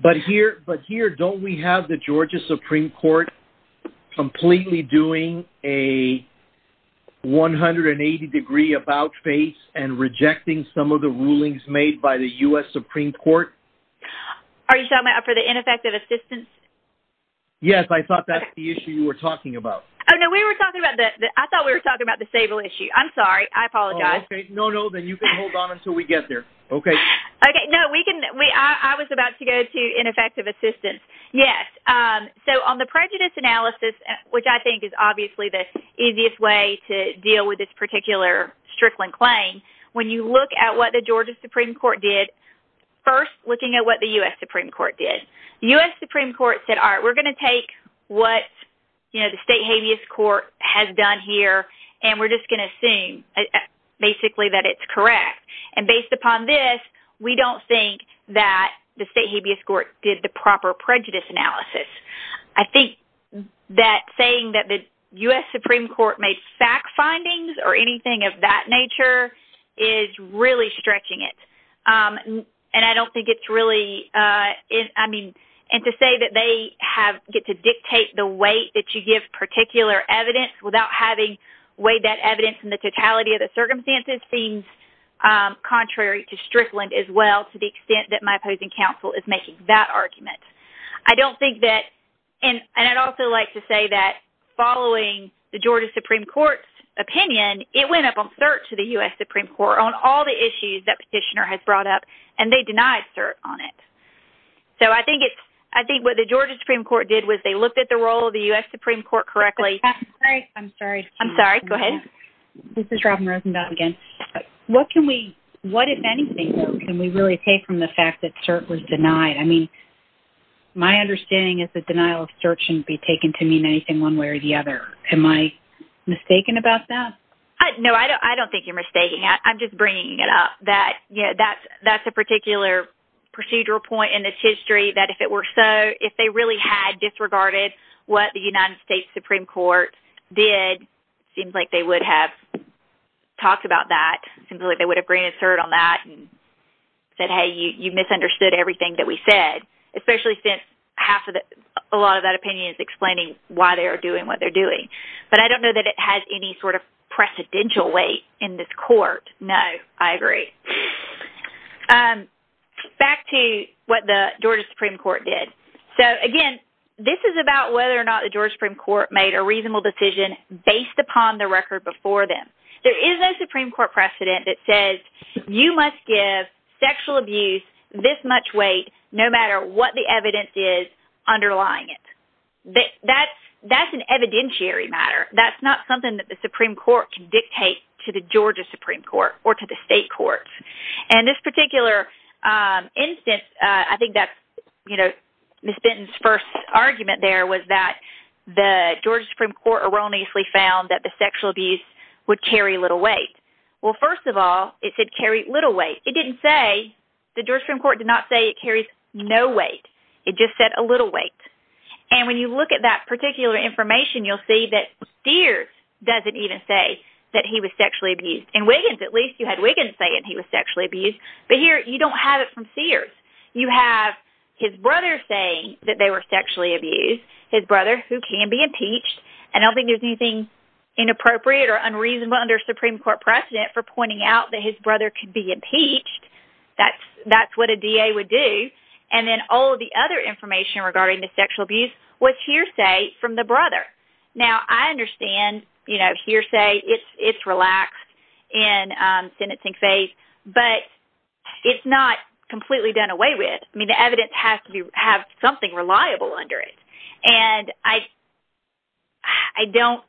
But here, but here, don't we have the Georgia Supreme Court completely doing a 180-degree about-face and rejecting some of the rulings made by the U.S. Supreme Court? Are you talking about for the ineffective assistance? Yes, I thought that's the issue you were talking about. Oh, no, we were talking about the, I thought we were talking about the stable issue. I'm sorry, I apologize. Okay, no, no, then you can hold on until we get there. Okay. Okay, no, we can, I was about to go to ineffective assistance. Yes. So, on the prejudice analysis, which I think is obviously the easiest way to deal with this particular Strickland claim, when you look at what the Georgia Supreme Court did, first, looking at what the U.S. Supreme Court did. The U.S. Supreme Court said, all right, we're going to take what, you know, the state habeas court has done here, and we're just going to assume basically that it's correct. And based upon this, we don't think that the state habeas court did the proper prejudice analysis. I think that saying that the U.S. Supreme Court made fact findings or anything of that nature is really stretching it. And I don't think it's really, I mean, and to say that they have, get to dictate the weight that you give particular evidence without having weighed that evidence in totality of the circumstances seems contrary to Strickland as well, to the extent that my opposing counsel is making that argument. I don't think that, and I'd also like to say that following the Georgia Supreme Court's opinion, it went up on cert to the U.S. Supreme Court on all the issues that petitioner has brought up, and they denied cert on it. So, I think it's, I think what the Georgia Supreme Court did was they looked at the role of the U.S. Supreme Court correctly. I'm sorry. I'm sorry. Go ahead. This is Robin Rosenblatt again. What can we, what, if anything, can we really take from the fact that cert was denied? I mean, my understanding is that denial of cert shouldn't be taken to mean anything one way or the other. Am I mistaken about that? No, I don't think you're mistaken. I'm just bringing it up that, you know, that's a particular procedural point in this history that if it were so, if they really had disregarded what the United States Supreme Court did, seems like they would have talked about that. Seems like they would have granted cert on that and said, hey, you misunderstood everything that we said, especially since half of the, a lot of that opinion is explaining why they are doing what they're doing. But I don't know that it has any sort of precedential weight in this court. No, I agree. Back to what the Georgia Supreme Court did. Again, this is about whether or not the Georgia Supreme Court made a reasonable decision based upon the record before them. There is no Supreme Court precedent that says you must give sexual abuse this much weight no matter what the evidence is underlying it. That's an evidentiary matter. That's not something that the Supreme Court can dictate to the Georgia Supreme Court or to the state courts. And this particular instance, I think that's, you know, Ms. Benton's first argument there was that the Georgia Supreme Court erroneously found that the sexual abuse would carry little weight. Well, first of all, it said carry little weight. It didn't say, the Georgia Supreme Court did not say it carries no weight. It just said a little weight. And when you look at that particular information, you'll see that Steers doesn't even say that he was sexually abused. You had Wiggins saying he was sexually abused, but here you don't have it from Steers. You have his brother saying that they were sexually abused, his brother who can be impeached, and I don't think there's anything inappropriate or unreasonable under Supreme Court precedent for pointing out that his brother could be impeached. That's what a DA would do. And then all of the other information regarding the sexual abuse was hearsay from the brother. Now, I understand, you know, hearsay, it's relaxed in sentencing phase, but it's not completely done away with. I mean, the evidence has to have something reliable under it. And I don't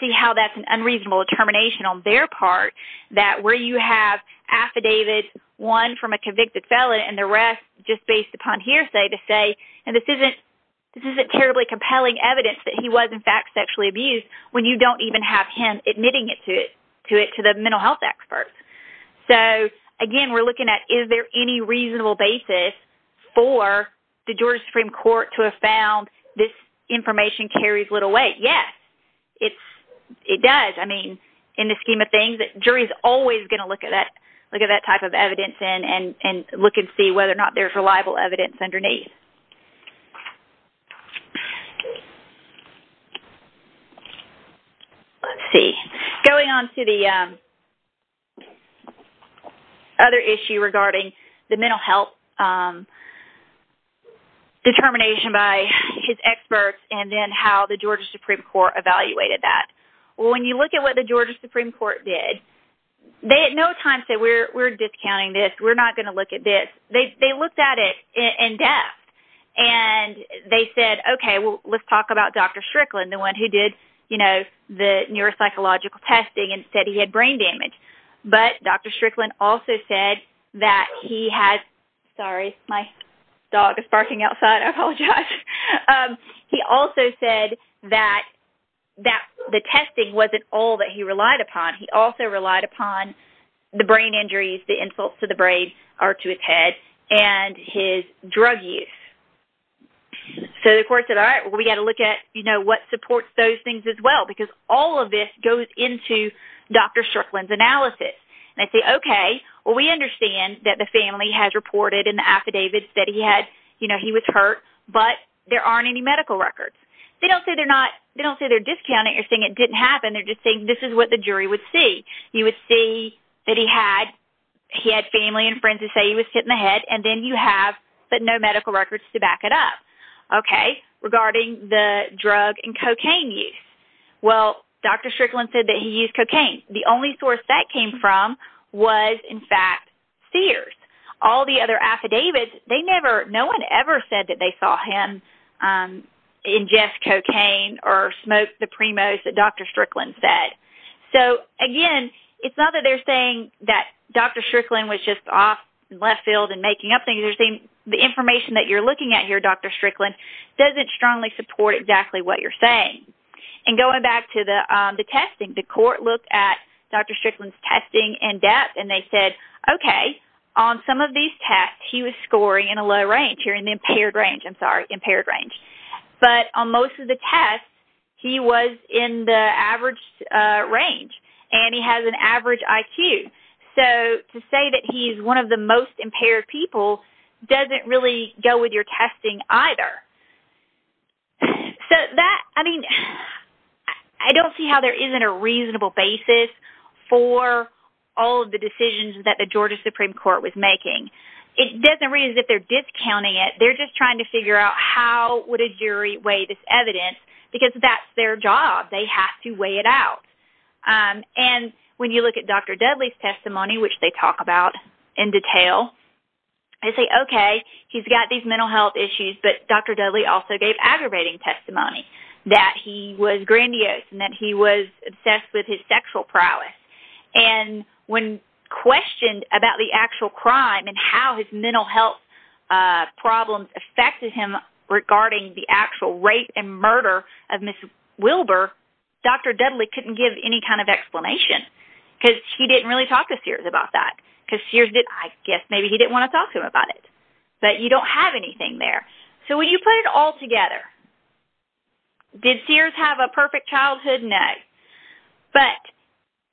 see how that's an unreasonable determination on their part that where you have affidavit one from a convicted felon and the rest just based upon hearsay to say, and this isn't terribly compelling evidence that he was in fact sexually abused, when you don't even have him admitting it to the mental health experts. So again, we're looking at is there any reasonable basis for the Georgia Supreme Court to have found this information carries little weight? Yes, it does. I mean, in the scheme of things, jury's always going to look at that type of evidence and look and see whether or not there's reliable evidence underneath. Let's see, going on to the other issue regarding the mental health determination by his experts and then how the Georgia Supreme Court evaluated that. Well, when you look at what the Georgia Supreme Court did, they at no time said, we're discounting this, we're not going to look at this. They looked at it in depth and they said, okay, well, let's talk about Dr. Strickland, the one who did the neuropsychological testing and said he had brain damage. But Dr. Strickland also said that he had, sorry, my dog is barking outside, I apologize. He also said that the testing wasn't all that he relied upon. He also relied upon the brain injuries, the insults to the brain or to his head and his drug use. So the court said, all right, we got to look at, you know, what supports those things as well, because all of this goes into Dr. Strickland's analysis. And I say, okay, well, we understand that the family has reported in the affidavits that he had, you know, he was hurt, but there aren't any medical records. They don't say they're not, they don't say they're discounting, you're saying it didn't happen, they're just this is what the jury would see. You would see that he had, he had family and friends who say he was hit in the head and then you have, but no medical records to back it up. Okay, regarding the drug and cocaine use. Well, Dr. Strickland said that he used cocaine. The only source that came from was, in fact, Sears. All the other affidavits, they never, no one ever said that they saw him ingest cocaine or smoke the Primos that Dr. Strickland said. So, again, it's not that they're saying that Dr. Strickland was just off left field and making up things, they're saying the information that you're looking at here, Dr. Strickland, doesn't strongly support exactly what you're saying. And going back to the testing, the court looked at Dr. Strickland's testing in depth and they said, okay, on some of these tests he was scoring in a low range, an impaired range, I'm sorry, impaired range, but on most of the tests he was in the average range and he has an average IQ. So, to say that he's one of the most impaired people doesn't really go with your testing either. So, that, I mean, I don't see how there isn't a reasonable basis for all of the decisions that the Georgia Supreme Court was making. It doesn't mean that they're discounting it, they're just trying to figure out how would a jury weigh this evidence because that's their job, they have to weigh it out. And when you look at Dr. Dudley's testimony, which they talk about in detail, they say, okay, he's got these mental health issues, but Dr. Dudley also gave aggravating testimony that he was grandiose and that he was obsessed with his sexual prowess. And when questioned about the actual crime and how his mental health problems affected him regarding the actual rape and murder of Ms. Wilbur, Dr. Dudley couldn't give any kind of explanation because he didn't really talk to Sears about that because Sears didn't, I guess maybe he didn't want to talk to him about it, but you don't have anything there. So, when you put it all together, did Sears have a perfect childhood? No. But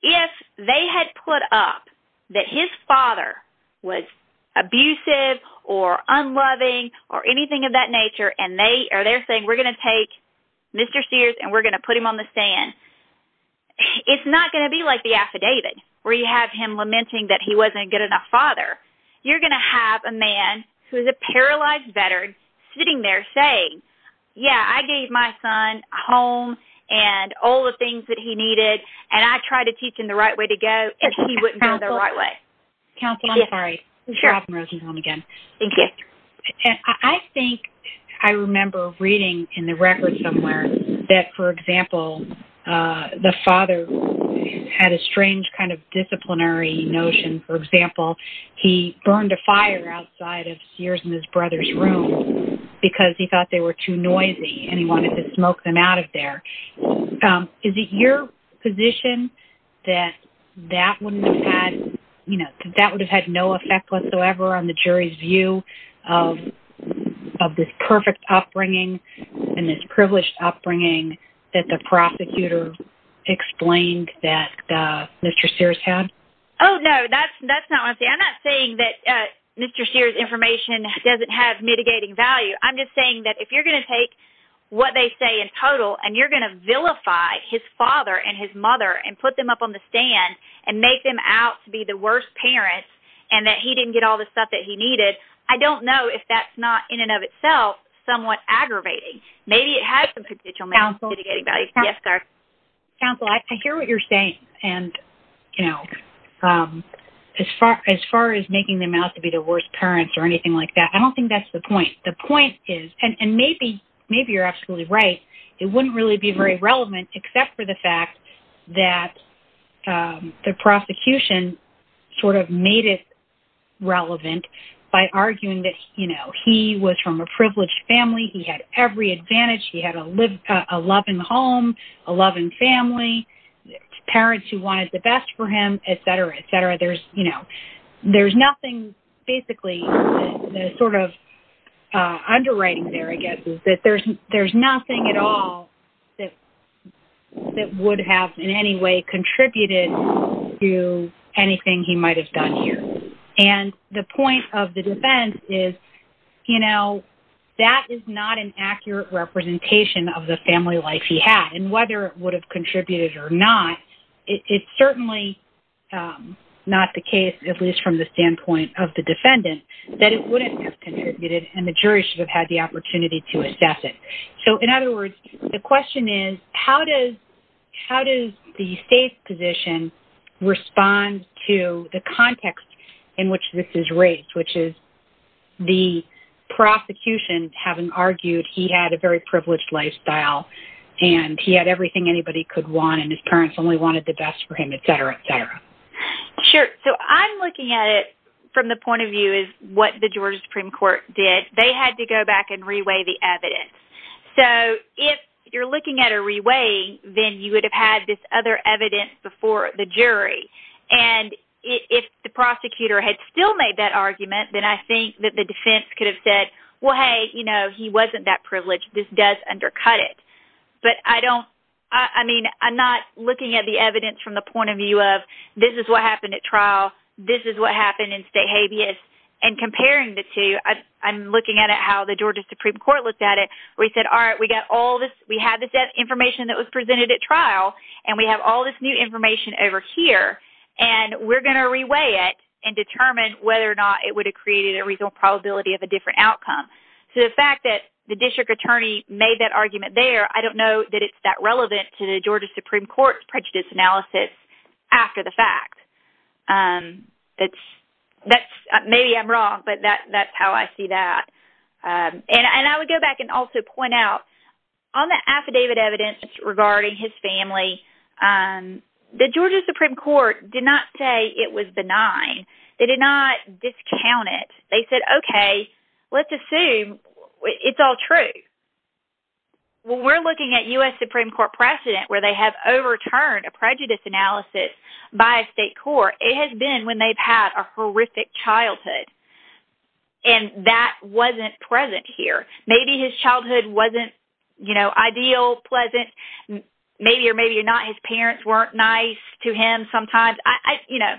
if they had put up that his father was abusive or unloving or anything of that nature and they're saying, we're going to take Mr. Sears and we're going to put him on the stand, it's not going to be like the affidavit where you have him lamenting that he wasn't a good enough father. You're going to have a man who's a paralyzed veteran sitting there saying, yeah, I gave my son a home and all the things that he needed, and I tried to teach him the right way to go if he wouldn't go the right way. Counselor, I'm sorry. I think I remember reading in the record somewhere that, for example, the father had a strange kind of disciplinary notion. For example, he burned a fire outside of Sears and his brother's room because he thought they were too noisy and he wanted to smoke them out of there. Is it your position that that would have had no effect whatsoever on the jury's view of this perfect upbringing and this privileged upbringing that the prosecutor explained that Mr. Sears had? Oh, no, that's not what I'm saying. I'm not saying that Mr. Sears' information doesn't have mitigating value. I'm just saying that if you're going to take what they say in total and you're going to vilify his father and his mother and put them up on the stand and make them out to be the worst parents and that he didn't get all the stuff that he needed, I don't know if that's not, in and of itself, somewhat aggravating. Maybe it has some potential mitigating value. Counselor? Yes, sir? Counselor, I hear what you're saying, and, you know, as far as making them out to be the worst parents or anything like that, I don't think that's the point. The point is, and maybe you're absolutely right, it wouldn't really be very relevant except for the fact that the prosecution sort of made it relevant by arguing that, you know, he was from a privileged family, he had every advantage, he had a loving home, a loving family, parents who wanted the best for him, etc., etc. There's, you know, there's nothing, basically, the sort of underwriting there, I guess, is that there's nothing at all that would have in any way contributed to anything he might have done here. And the point of the defense is, you know, that is not an accurate representation of the family life he had, and whether it would have contributed or not, it's certainly not the case, at least from the standpoint of the defendant, that it wouldn't have contributed and the jury should have had the opportunity to assess it. So, in other words, the question is, how does the state's respond to the context in which this is raised, which is the prosecution having argued he had a very privileged lifestyle and he had everything anybody could want and his parents only wanted the best for him, etc., etc. Sure. So, I'm looking at it from the point of view is what the Georgia Supreme Court did. They had to go back and reweigh the evidence. So, if you're looking at a reweigh, then you would have had this other evidence before the jury. And if the prosecutor had still made that argument, then I think that the defense could have said, well, hey, you know, he wasn't that privileged. This does undercut it. But I don't, I mean, I'm not looking at the evidence from the point of view of this is what happened at trial, this is what happened in state habeas, and comparing the two, I'm looking at it how the Georgia Supreme Court looked at it, where he said, all right, we have this information that was presented at trial, and we have all this new information over here, and we're going to reweigh it and determine whether or not it would have created a reasonable probability of a different outcome. So, the fact that the district attorney made that argument there, I don't know that it's that relevant to the Georgia Supreme Court's prejudice analysis after the fact. Maybe I'm wrong, but that's how I see that. And I would go back and also point out, on the affidavit evidence regarding his family, the Georgia Supreme Court did not say it was benign. They did not discount it. They said, okay, let's assume it's all true. When we're looking at U.S. Supreme Court precedent where they have overturned a prejudice analysis by a state court, it has been when they've had a precedent here. Maybe his childhood wasn't, you know, ideal, pleasant. Maybe or maybe not, his parents weren't nice to him sometimes. You know,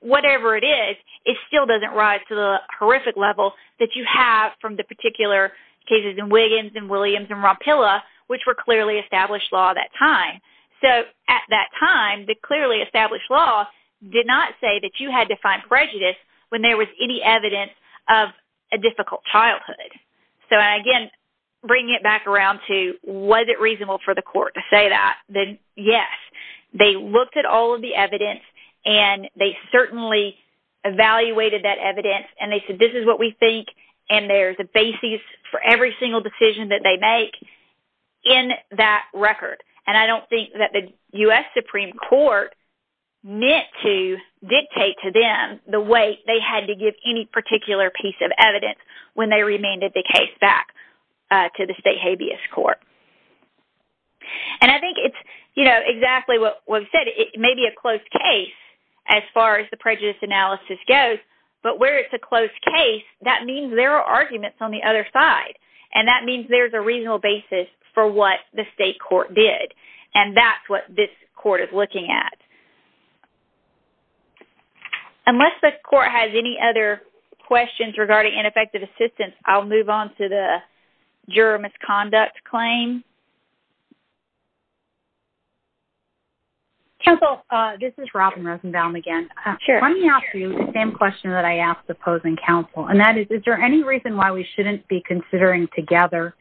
whatever it is, it still doesn't rise to the horrific level that you have from the particular cases in Williams and Williams and Rompilla, which were clearly established law at that time. So, at that time, the clearly established law did not say that you had to find prejudice when there was any evidence of a difficult childhood. So, again, bringing it back around to was it reasonable for the court to say that, then yes. They looked at all of the evidence, and they certainly evaluated that evidence, and they said, this is what we think, and there's a basis for every single decision that they make in that record. And I don't think that the U.S. Supreme Court meant to dictate to them the way they had to give any particular piece of evidence when they remanded the case back to the state habeas court. And I think it's, you know, exactly what was said. It may be a close case as far as the prejudice analysis goes, but where it's a close case, that means there are arguments on the other side, and that means there's a reasonable basis for what the state court did, and that's what this court is looking at. Unless the court has any other questions regarding ineffective assistance, I'll move on to the juror misconduct claim. Counsel, this is Robin Rosenbaum again. Let me ask you the same question that I asked the opposing counsel, and that is, is there any reason why we shouldn't be considering together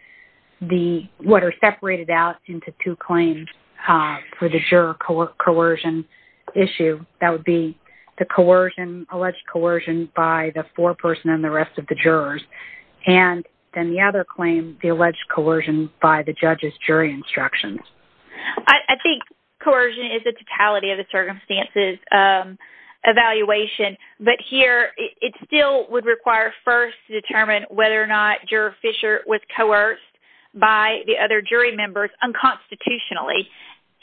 the-what are separated out into two claims for the juror coercion issue? That would be the coercion, alleged coercion by the foreperson and the rest of the jurors, and then the other claim, the alleged coercion by the judge's jury instructions. I think coercion is the totality of the circumstances evaluation, but here it still would require first to determine whether or not Juror Fisher was coerced by the other jury members unconstitutionally,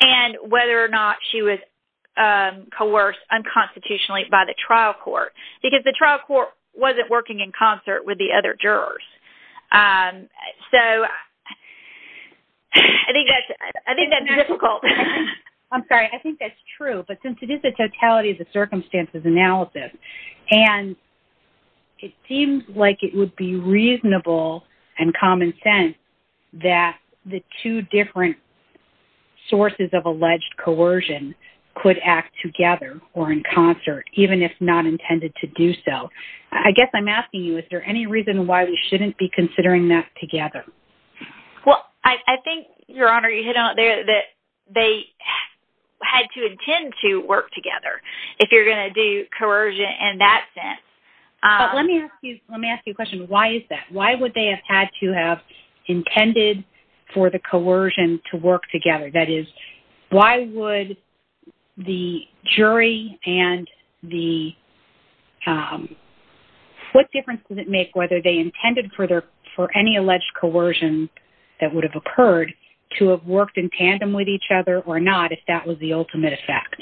and whether or not she was coerced unconstitutionally by the trial court, because the trial court wasn't working in concert with the other jurors. So, I think that's difficult. I'm sorry, I think that's true, but since it is the totality of the circumstances analysis, and it seems like it would be reasonable and common sense that the two different sources of alleged coercion could act together or in concert, even if not intended to do so. I guess I'm asking you, is there any reason why we shouldn't be considering that together? Well, I think, Your Honor, you hit on it there, that they had to intend to work together if you're going to do coercion in that sense. But let me ask you, let me ask you a question. Why is that? Why would they have had to have intended for the coercion to work together? That is, why would the jury and the, what difference does it make whether they intended for their, for any alleged coercion that would have occurred to have worked in tandem with each other or not, if that was the ultimate effect?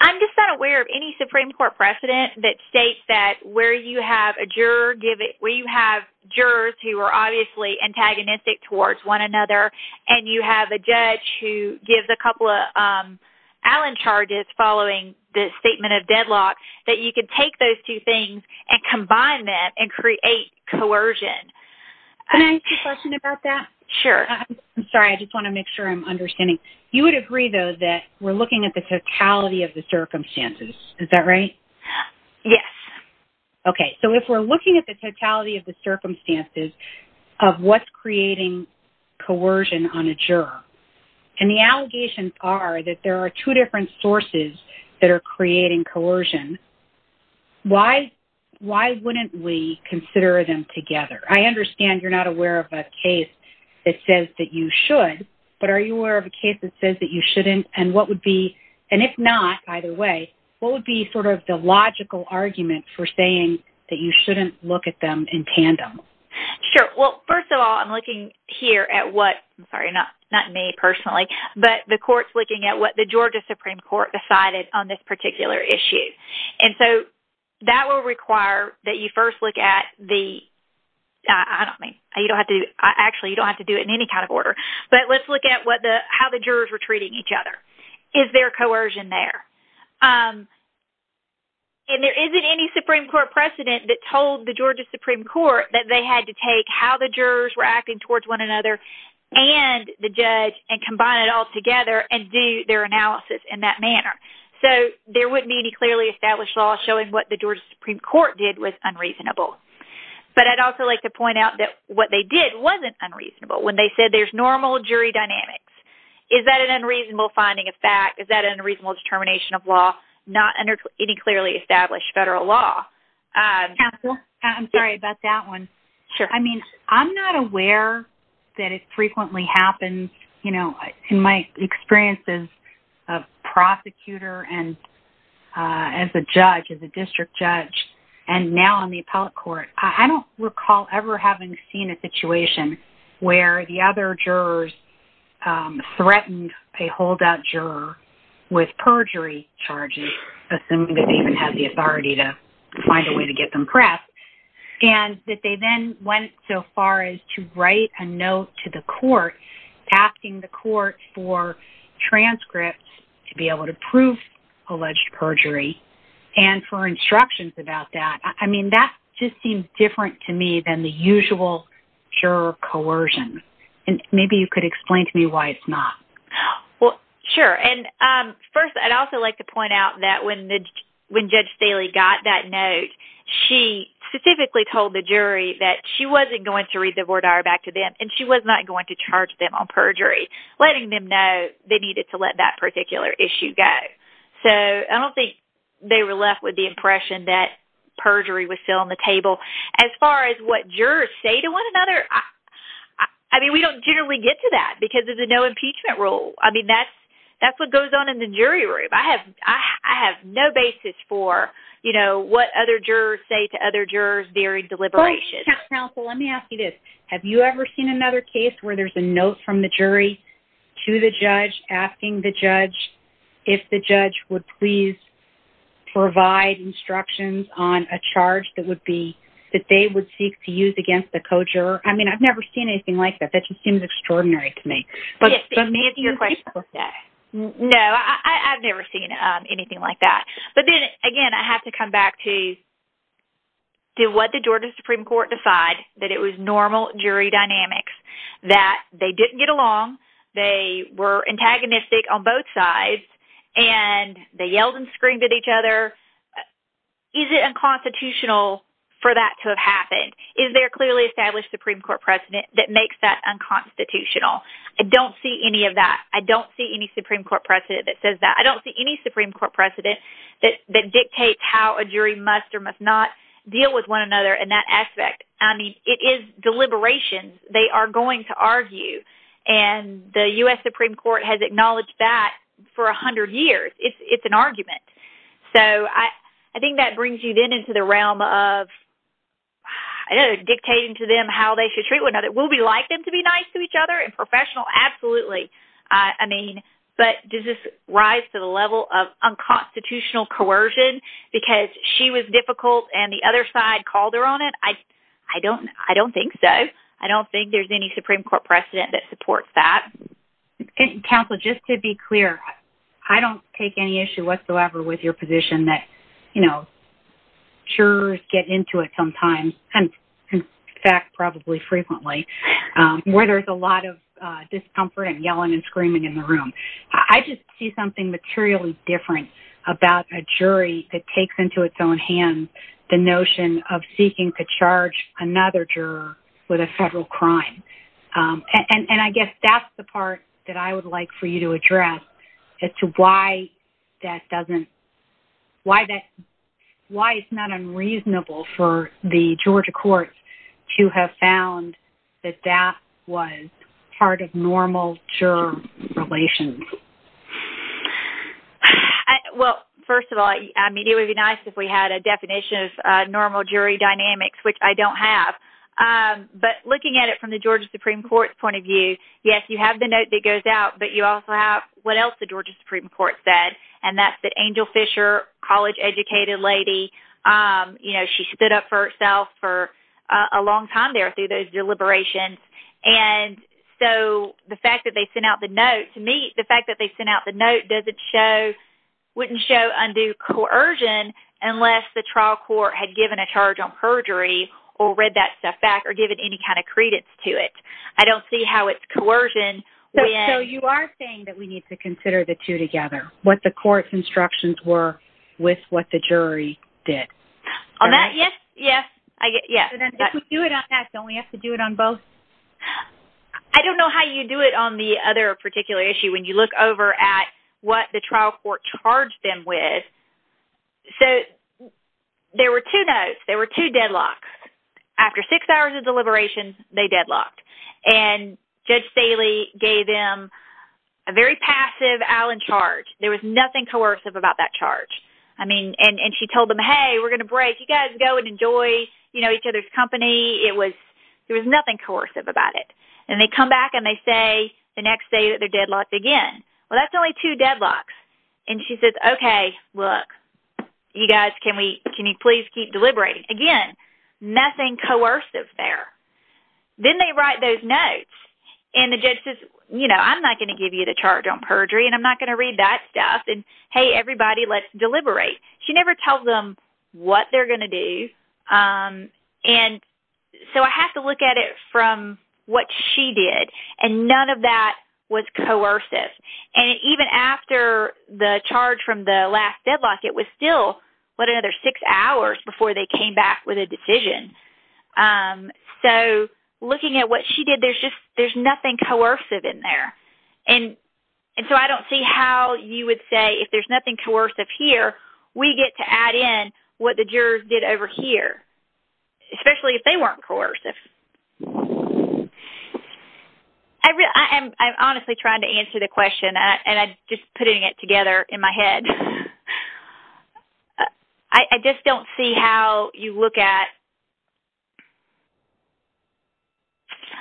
I'm just not aware of any Supreme Court precedent that states that where you have a juror give it, where you have jurors who are obviously antagonistic towards one another, and you have a judge who gives a couple of Allen charges following the statement of deadlock, that you could take those two things and combine them and create coercion. Can I ask you a question about that? Sure. I'm sorry, I just want to make sure I'm understanding. You would agree, though, that we're looking at the totality of the circumstances, is that right? Yes. Okay. So if we're looking at the totality of the circumstances of what's creating coercion on a juror, and the allegations are that there are two different sources that are creating coercion, why wouldn't we consider them together? I understand you're not aware of a case that says that you should, but are you aware of a case that says that you shouldn't, and what would be, and if not, either way, what would be sort of the logical argument for saying that you shouldn't look at them in tandem? Sure. Well, first of all, I'm looking here at what, I'm sorry, not me personally, but the court's looking at what the Georgia Supreme Court decided on this particular issue, and so that will require that you first look at the, I don't mean, you don't have to, actually, you don't have to do it in any kind of order, but let's look at what the, how the jurors were treating each other. Is there coercion there? And there isn't any Supreme Court precedent that told the Georgia Supreme Court that they had to take how the jurors were acting towards one another and the judge and combine it all together and do their analysis in that manner, so there wouldn't be any clearly established law showing what the Georgia Supreme Court did was unreasonable, but I'd also like to point out that what they did wasn't unreasonable when they said there's normal jury dynamics. Is that an unreasonable finding of fact? Is that an unreasonable determination of law? Not under any clearly established federal law. I'm sorry about that one. Sure. I mean, I'm not aware that it frequently happens, you know, in my experience as a prosecutor and as a judge, as a district judge, and now on the appellate court, I don't recall ever having seen a situation where the other jurors threatened a holdout juror with perjury charges, assuming they even had the authority to find a press, and that they then went so far as to write a note to the court asking the court for transcripts to be able to prove alleged perjury and for instructions about that. I mean, that just seems different to me than the usual juror coercion, and maybe you could explain to me why it's not. Well, sure, and first, I'd also like to point out that when Judge Staley got that note, she specifically told the jury that she wasn't going to read the voir dire back to them and she was not going to charge them on perjury, letting them know they needed to let that particular issue go. So I don't think they were left with the impression that perjury was still on the table. As far as what jurors say to one another, I mean, we don't generally get to that because of the no impeachment rule. I mean, that's what goes on in the jury room. I have no basis for, you know, what other jurors say to other jurors, varied deliberations. Judge Counsel, let me ask you this. Have you ever seen another case where there's a note from the jury to the judge asking the judge if the judge would please provide instructions on a charge that would be, that they would seek to use against the co-juror? I mean, I've never seen anything like that. That just seems extraordinary to me. Yes, but Nancy, you've been through that. No, I've never seen anything like that. But then again, I have to come back to what did Georgia Supreme Court decide that it was normal jury dynamics, that they didn't get along, they were antagonistic on both sides, and they yelled and screamed at each other. Is it unconstitutional for that to have happened? Is there a clearly established Supreme Court precedent that makes that unconstitutional? I don't see any of that. I don't see any Supreme Court precedent that says that. I don't see any Supreme Court precedent that dictates how a jury must or must not deal with one another in that aspect. I mean, it is deliberations they are going to argue. And the US Supreme Court has acknowledged that for 100 years. It's an argument. So I think that brings you then into the realm of dictating to them how they should treat one another. Will we like them to be nice to each other and professional? Absolutely. I mean, but does this rise to the level of unconstitutional coercion because she was difficult and the other side called her on it? I don't think so. I don't think there's any Supreme Court precedent that supports that. Counsel, just to be clear, I don't take any issue whatsoever with your position that, you know, jurors get into it sometimes, and in fact, probably frequently, where there's a lot of discomfort and yelling and screaming in the room. I just see something materially different about a jury that takes into its own hands the notion of seeking to charge another juror with a federal crime. And I guess that's the part that I would like for you to address as to why that doesn't, why that, why it's not unreasonable for the Georgia courts to have found that that was part of normal juror relations. Well, first of all, I mean, it would be nice if we had a definition of normal jury dynamics, which I don't have. But looking at it from the Georgia Supreme Court's point of view, yes, you have the note that goes out, but you also have what else the Angel Fisher, college-educated lady, you know, she stood up for herself for a long time there through those deliberations. And so the fact that they sent out the note, to me, the fact that they sent out the note doesn't show, wouldn't show undue coercion unless the trial court had given a charge on perjury or read that stuff back or given any kind of credence to it. I don't see how it's coercion when... So you are saying that we need to consider the two together, what the court's instructions were with what the jury did. On that, yes, yes, yes. And then if we do it on that, don't we have to do it on both? I don't know how you do it on the other particular issue when you look over at what the trial court charged them with. So there were two notes, there were two deadlocks. After six hours of deliberation, there was nothing coercive about that charge. I mean, and she told them, hey, we're going to break. You guys go and enjoy, you know, each other's company. It was, there was nothing coercive about it. And they come back and they say the next day that they're deadlocked again. Well, that's only two deadlocks. And she says, okay, look, you guys, can we, can you please keep deliberating? Again, nothing coercive there. Then they write those notes and the judge says, you know, I'm not going to give you the charge on perjury and I'm not going to read that stuff. And hey, everybody, let's deliberate. She never tells them what they're going to do. And so I have to look at it from what she did. And none of that was coercive. And even after the charge from the last deadlock, it was still, what, another six hours before they came back with a decision. So looking at what she did, there's just, there's nothing coercive in there. And so I don't see how you would say if there's nothing coercive here, we get to add in what the jurors did over here, especially if they weren't coercive. I'm honestly trying to answer the question and I'm just putting it together in my head. I just don't see how you look at,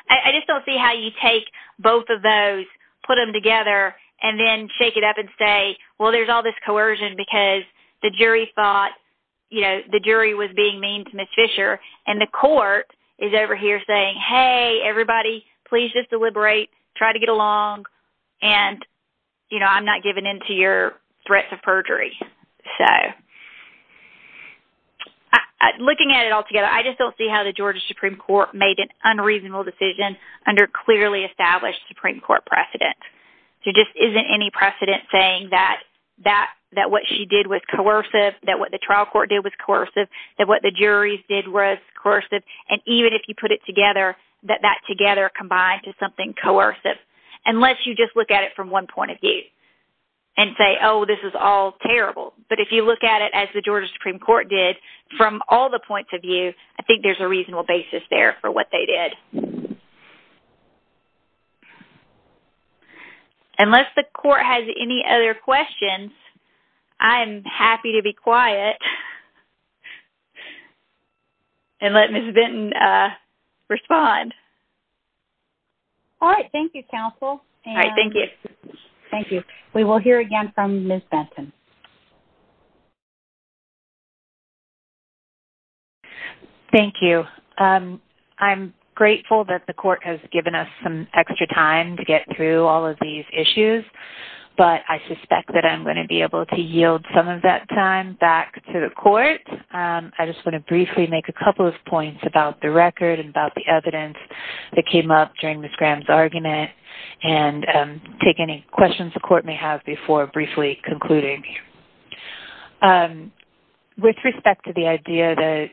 I just don't see how you take both of those, put them together and then shake it up and say, well, there's all this coercion because the jury thought, you know, the jury was being mean to Ms. Fisher and the court is over here saying, hey, everybody, please just deliberate, try to get along. And, you know, I'm not giving into your threats of perjury. So looking at it all together, I just don't see how the Georgia Supreme Court made an unreasonable decision under clearly established Supreme Court precedent. There just isn't any precedent saying that what she did was coercive, that what the trial court did was coercive, that what the juries did was coercive. And even if you put it together, that that together combined to something coercive, unless you just look at it from one point of view and say, oh, this is all terrible. But if you look at it as the Georgia Supreme Court did, from all the points of view, I think there's a reasonable basis there for what they did. Unless the court has any other questions, I'm happy to be quiet and let Ms. Benton respond. All right. Thank you, counsel. All right. Thank you. Thank you. We will hear again from Ms. Benton. Thank you. I'm grateful that the court has given us some extra time to get through all of these issues, but I suspect that I'm going to be able to yield some of that time back to the court. I just want to briefly make a couple of points about the record and about the evidence that came up during Ms. Graham's argument and take any questions the court may have before briefly concluding. With respect to the idea that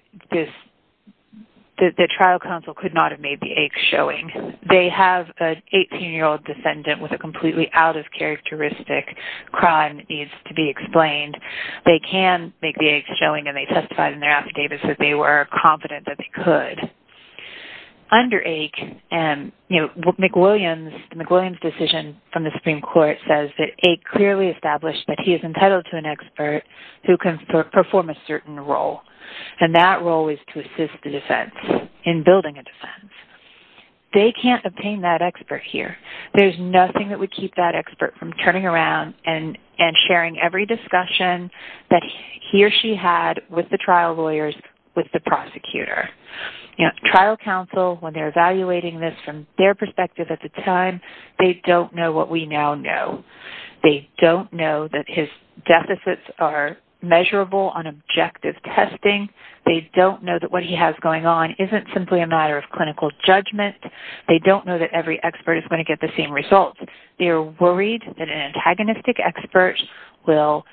the trial counsel could not have made the eggs showing, they have an 18-year-old defendant with a completely out of characteristic crime needs to be explained. They can make the eggs showing, and they testified in their affidavits that they were confident that they could. Under AIC, McWilliams' decision from the Supreme Court says that AIC clearly established that he is entitled to an expert who can perform a certain role, and that role is to assist the defense in building a defense. They can't obtain that expert here. There's nothing that would keep that expert from turning around and sharing every discussion that he or she had with the trial lawyers with the prosecutor. Trial counsel, when they're evaluating this from their perspective at the time, they don't know what we now know. They don't know that his deficits are measurable on objective testing. They don't know that what every expert is going to get the same results. They're worried that an antagonistic expert will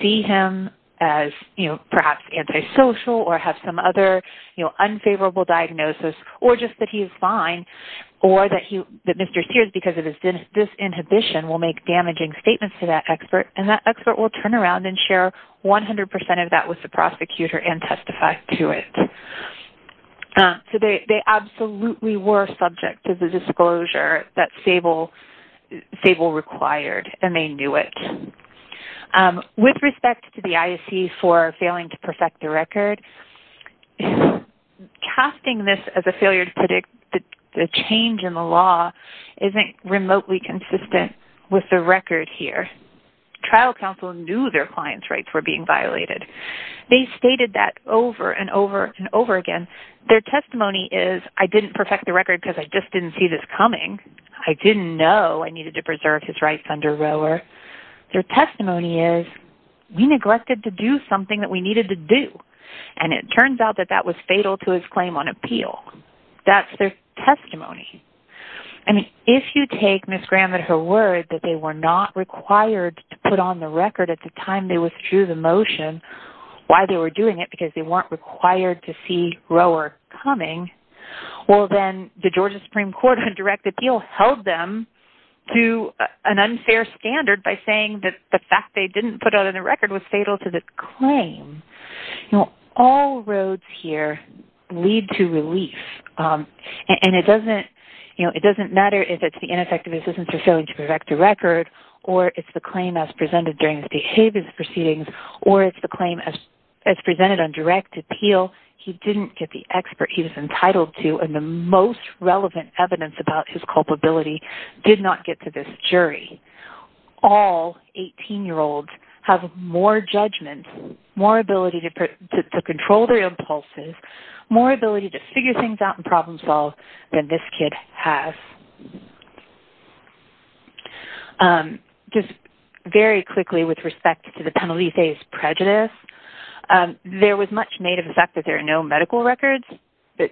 see him as perhaps antisocial or have some other unfavorable diagnosis, or just that he's fine, or that Mr. Sears, because of his disinhibition, will make damaging statements to that expert, and that expert will turn around and share 100% of that with the prosecutor and that's stable, stable required, and they knew it. With respect to the AIC for failing to perfect the record, casting this as a failure to predict the change in the law isn't remotely consistent with the record here. Trial counsel knew their client's rights were being violated. They stated that over and over and over again. Their testimony is, I didn't perfect the record because I just didn't see this coming. I didn't know I needed to preserve his rights under Rohwer. Their testimony is, we neglected to do something that we needed to do, and it turns out that that was fatal to his claim on appeal. That's their testimony. If you take Ms. Graham and her word that they were not required to put on the record at the time they withdrew the motion, why they were doing it, because they weren't required to see Rohwer coming, well, then the Georgia Supreme Court, who can direct the deal, held them to an unfair standard by saying that the fact they didn't put it on the record was fatal to the claim. All roads here lead to relief, and it doesn't matter if it's the ineffectiveness isn't fulfilling to correct the record, or it's the claim as presented during his behavior proceedings, or it's the claim as presented on direct appeal, he didn't get the expert he was entitled to, and the most relevant evidence about his culpability did not get to this jury. All 18-year-olds have more judgment, more ability to control their impulses, more ability to figure things out and problem solve than this kid has. Just very quickly with respect to the Penelope's prejudice, there was much made of the fact that there are no medical records, but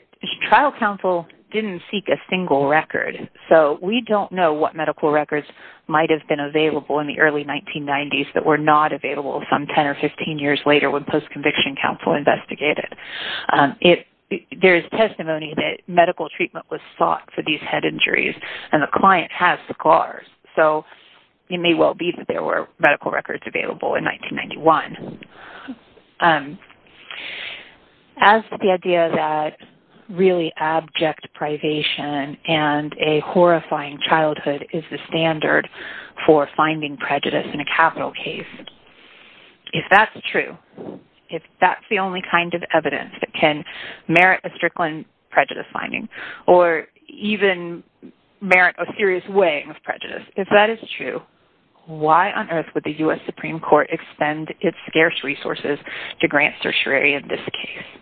trial counsel didn't seek a single record, so we don't know what medical records might have been available in the early 1990s that were not available some 10 or 15 years later when post-conviction counsel investigated. There is testimony that medical treatment was sought for these head injuries, and the client has scars, so it may well be that there were medical records available in 1991. As to the idea that really abject privation and a horrifying childhood is the standard for finding prejudice in a capital case, if that's true, if that's the only kind of evidence that can merit a Strickland prejudice finding or even merit a serious weighing of prejudice, if that is true, why on earth would the U.S. Supreme Court expend its scarce resources to grant certiorari in this case?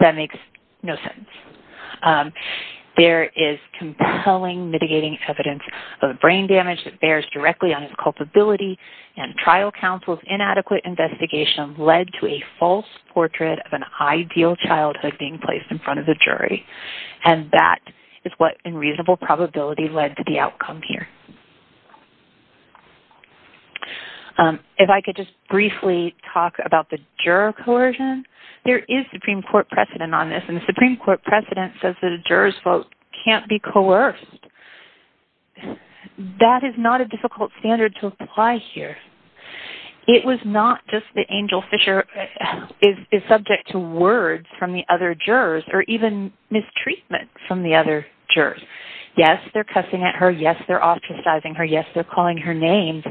That makes no sense. There is compelling mitigating evidence of brain damage that bears directly on his culpability, and trial counsel's inadequate investigation led to a And that is what in reasonable probability led to the outcome here. If I could just briefly talk about the juror coercion, there is Supreme Court precedent on this, and the Supreme Court precedent says that a juror's vote can't be coerced. That is not a difficult standard to apply here. It was not just that Angel Fisher is subject to words from the jurors or even mistreatment from the other jurors. Yes, they're cussing at her. Yes, they're ostracizing her. Yes, they're calling her names,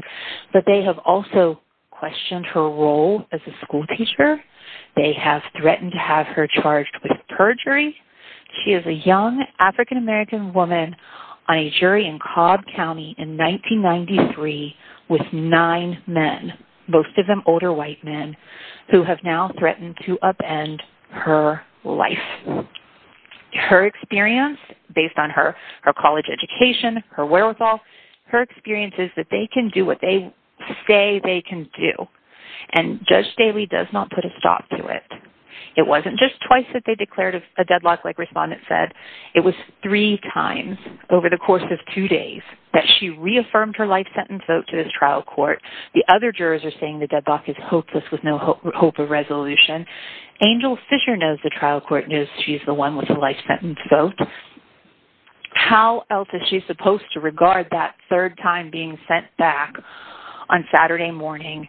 but they have also questioned her role as a schoolteacher. They have threatened to have her charged with perjury. She is a young African-American woman on a jury in Cobb County in 1993 with nine men, most of them older white men, who have now threatened to upend her life. Her experience, based on her college education, her wherewithal, her experience is that they can do what they say they can do, and Judge Daley does not put a stop to it. It wasn't just twice that they declared a deadlock, like respondent said. It was three times over the course of two days that she reaffirmed her life sentence vote to this trial court. The other jurors are saying the deadlock is hopeless with no hope of resolution. Angel Fisher knows the trial court knows she's the one with the life sentence vote. How else is she supposed to regard that third time being sent back on Saturday morning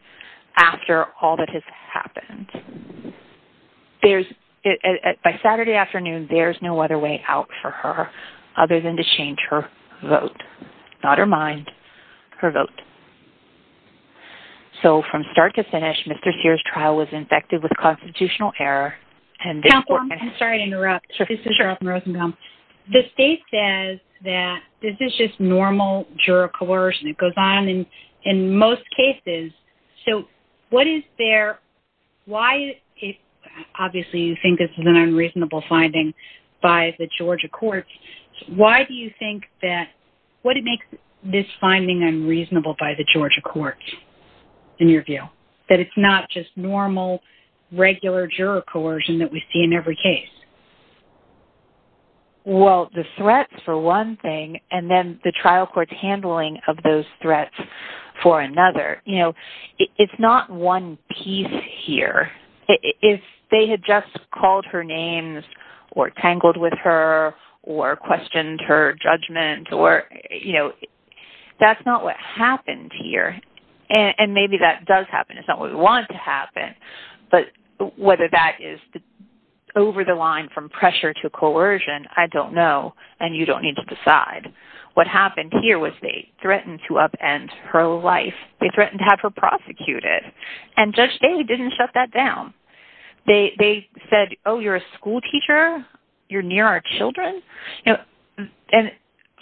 after all that has happened? By Saturday afternoon, there's no other way out for her other than to change her vote, not her mind, her vote. So, from start to finish, Mr. Sears' trial was infected with constitutional error and... Counsel, I'm sorry to interrupt. This is Cheryl Rosenbaum. The state says that this is just normal juror coercion. It goes on in most cases. So, what is their... Why... Obviously, you think this is an unreasonable finding by the Georgia courts. Why do you think that... What makes this finding unreasonable by the Georgia courts, in your view, that it's not just normal, regular juror coercion that we see in every case? Well, the threat for one thing and then the trial court's handling of those threats for another. You know, it's not one piece here. If they had called her names or tangled with her or questioned her judgment or... You know, that's not what happened here. And maybe that does happen. It's not what we want to happen. But whether that is over the line from pressure to coercion, I don't know, and you don't need to decide. What happened here was they threatened to upend her life. They threatened to have her said, oh, you're a school teacher? You're near our children? And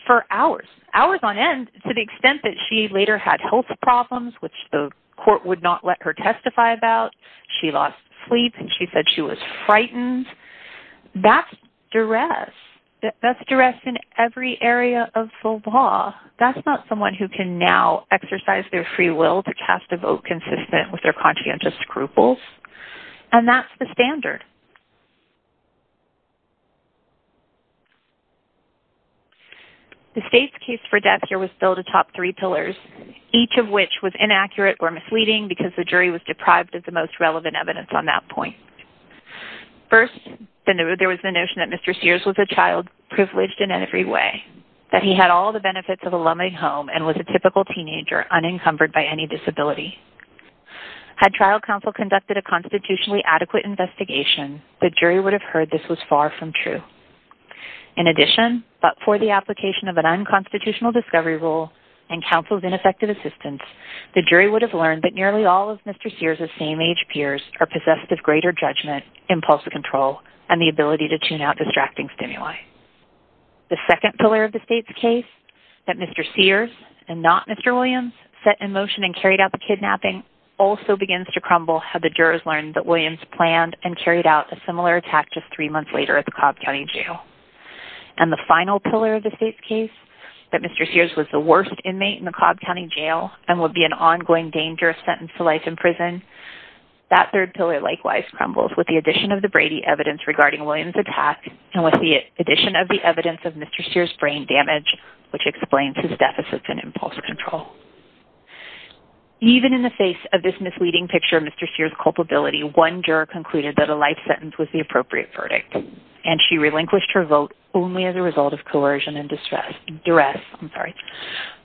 for hours, hours on end, to the extent that she later had health problems, which the court would not let her testify about. She lost sleep and she said she was frightened. That's duress. That's duress in every area of the law. That's not someone who can now exercise their free will to cast a vote consistent with conscientious scruples. And that's the standard. The state's case for Dexter was billed atop three pillars, each of which was inaccurate or misleading because the jury was deprived of the most relevant evidence on that point. First, there was the notion that Mr. Sears was a child privileged in every way, that he had all the benefits of a loving home and was a typical teenager unencumbered by any disability. Had trial counsel conducted a constitutionally adequate investigation, the jury would have heard this was far from true. In addition, but for the application of an unconstitutional discovery rule and counsel's ineffective assistance, the jury would have learned that nearly all of Mr. Sears' same age peers are possessed with greater judgment, impulse control, and the ability to tune out distracting stimuli. The second pillar of the state's case, that Mr. Sears and not Mr. Williams set in motion and carried out the kidnapping, also begins to crumble had the jurors learned that Williams planned and carried out a similar attack just three months later at the Cobb County Jail. And the final pillar of the state's case, that Mr. Sears was the worst inmate in the Cobb County Jail and would be an ongoing dangerous sentence to life in prison, that third pillar likewise crumbles with the addition of the Brady evidence regarding Williams' attack and with the addition of the evidence of Mr. Sears' brain damage, which explains his deficit in impulse control. Even in the face of this misleading picture of Mr. Sears' culpability, one juror concluded that a life sentence was the appropriate verdict and she relinquished her vote only as a result of coercion and distress. I'm sorry.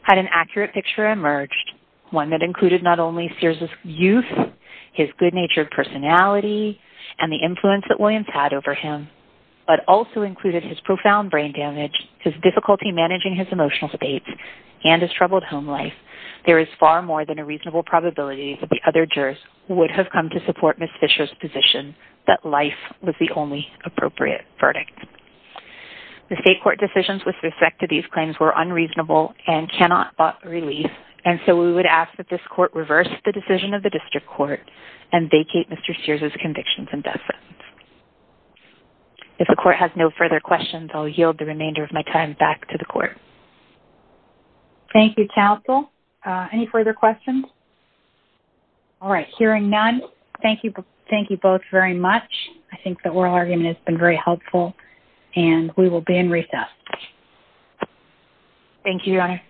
Had an accurate picture emerged, one that included not only Sears' youth, his good nature of personality, and the influence that Williams had over him, but also included his profound brain damage, his difficulty managing his emotional state, and his troubled home life, there is far more than a reasonable probability that the other jurors would have come to support Ms. Fisher's position that life was the only appropriate verdict. The state court decisions with respect to these claims were unreasonable and cannot bought relief and so we would ask that this court reverse the decision of the district court and vacate Mr. Sears' convictions and death sentence. If the court has no further questions, I'll yield the remainder of my time back to the court. Thank you, counsel. Any further questions? All right, hearing none, thank you both very much. I think the oral argument has been very helpful and we will be in recess. Thank you, Your Honor.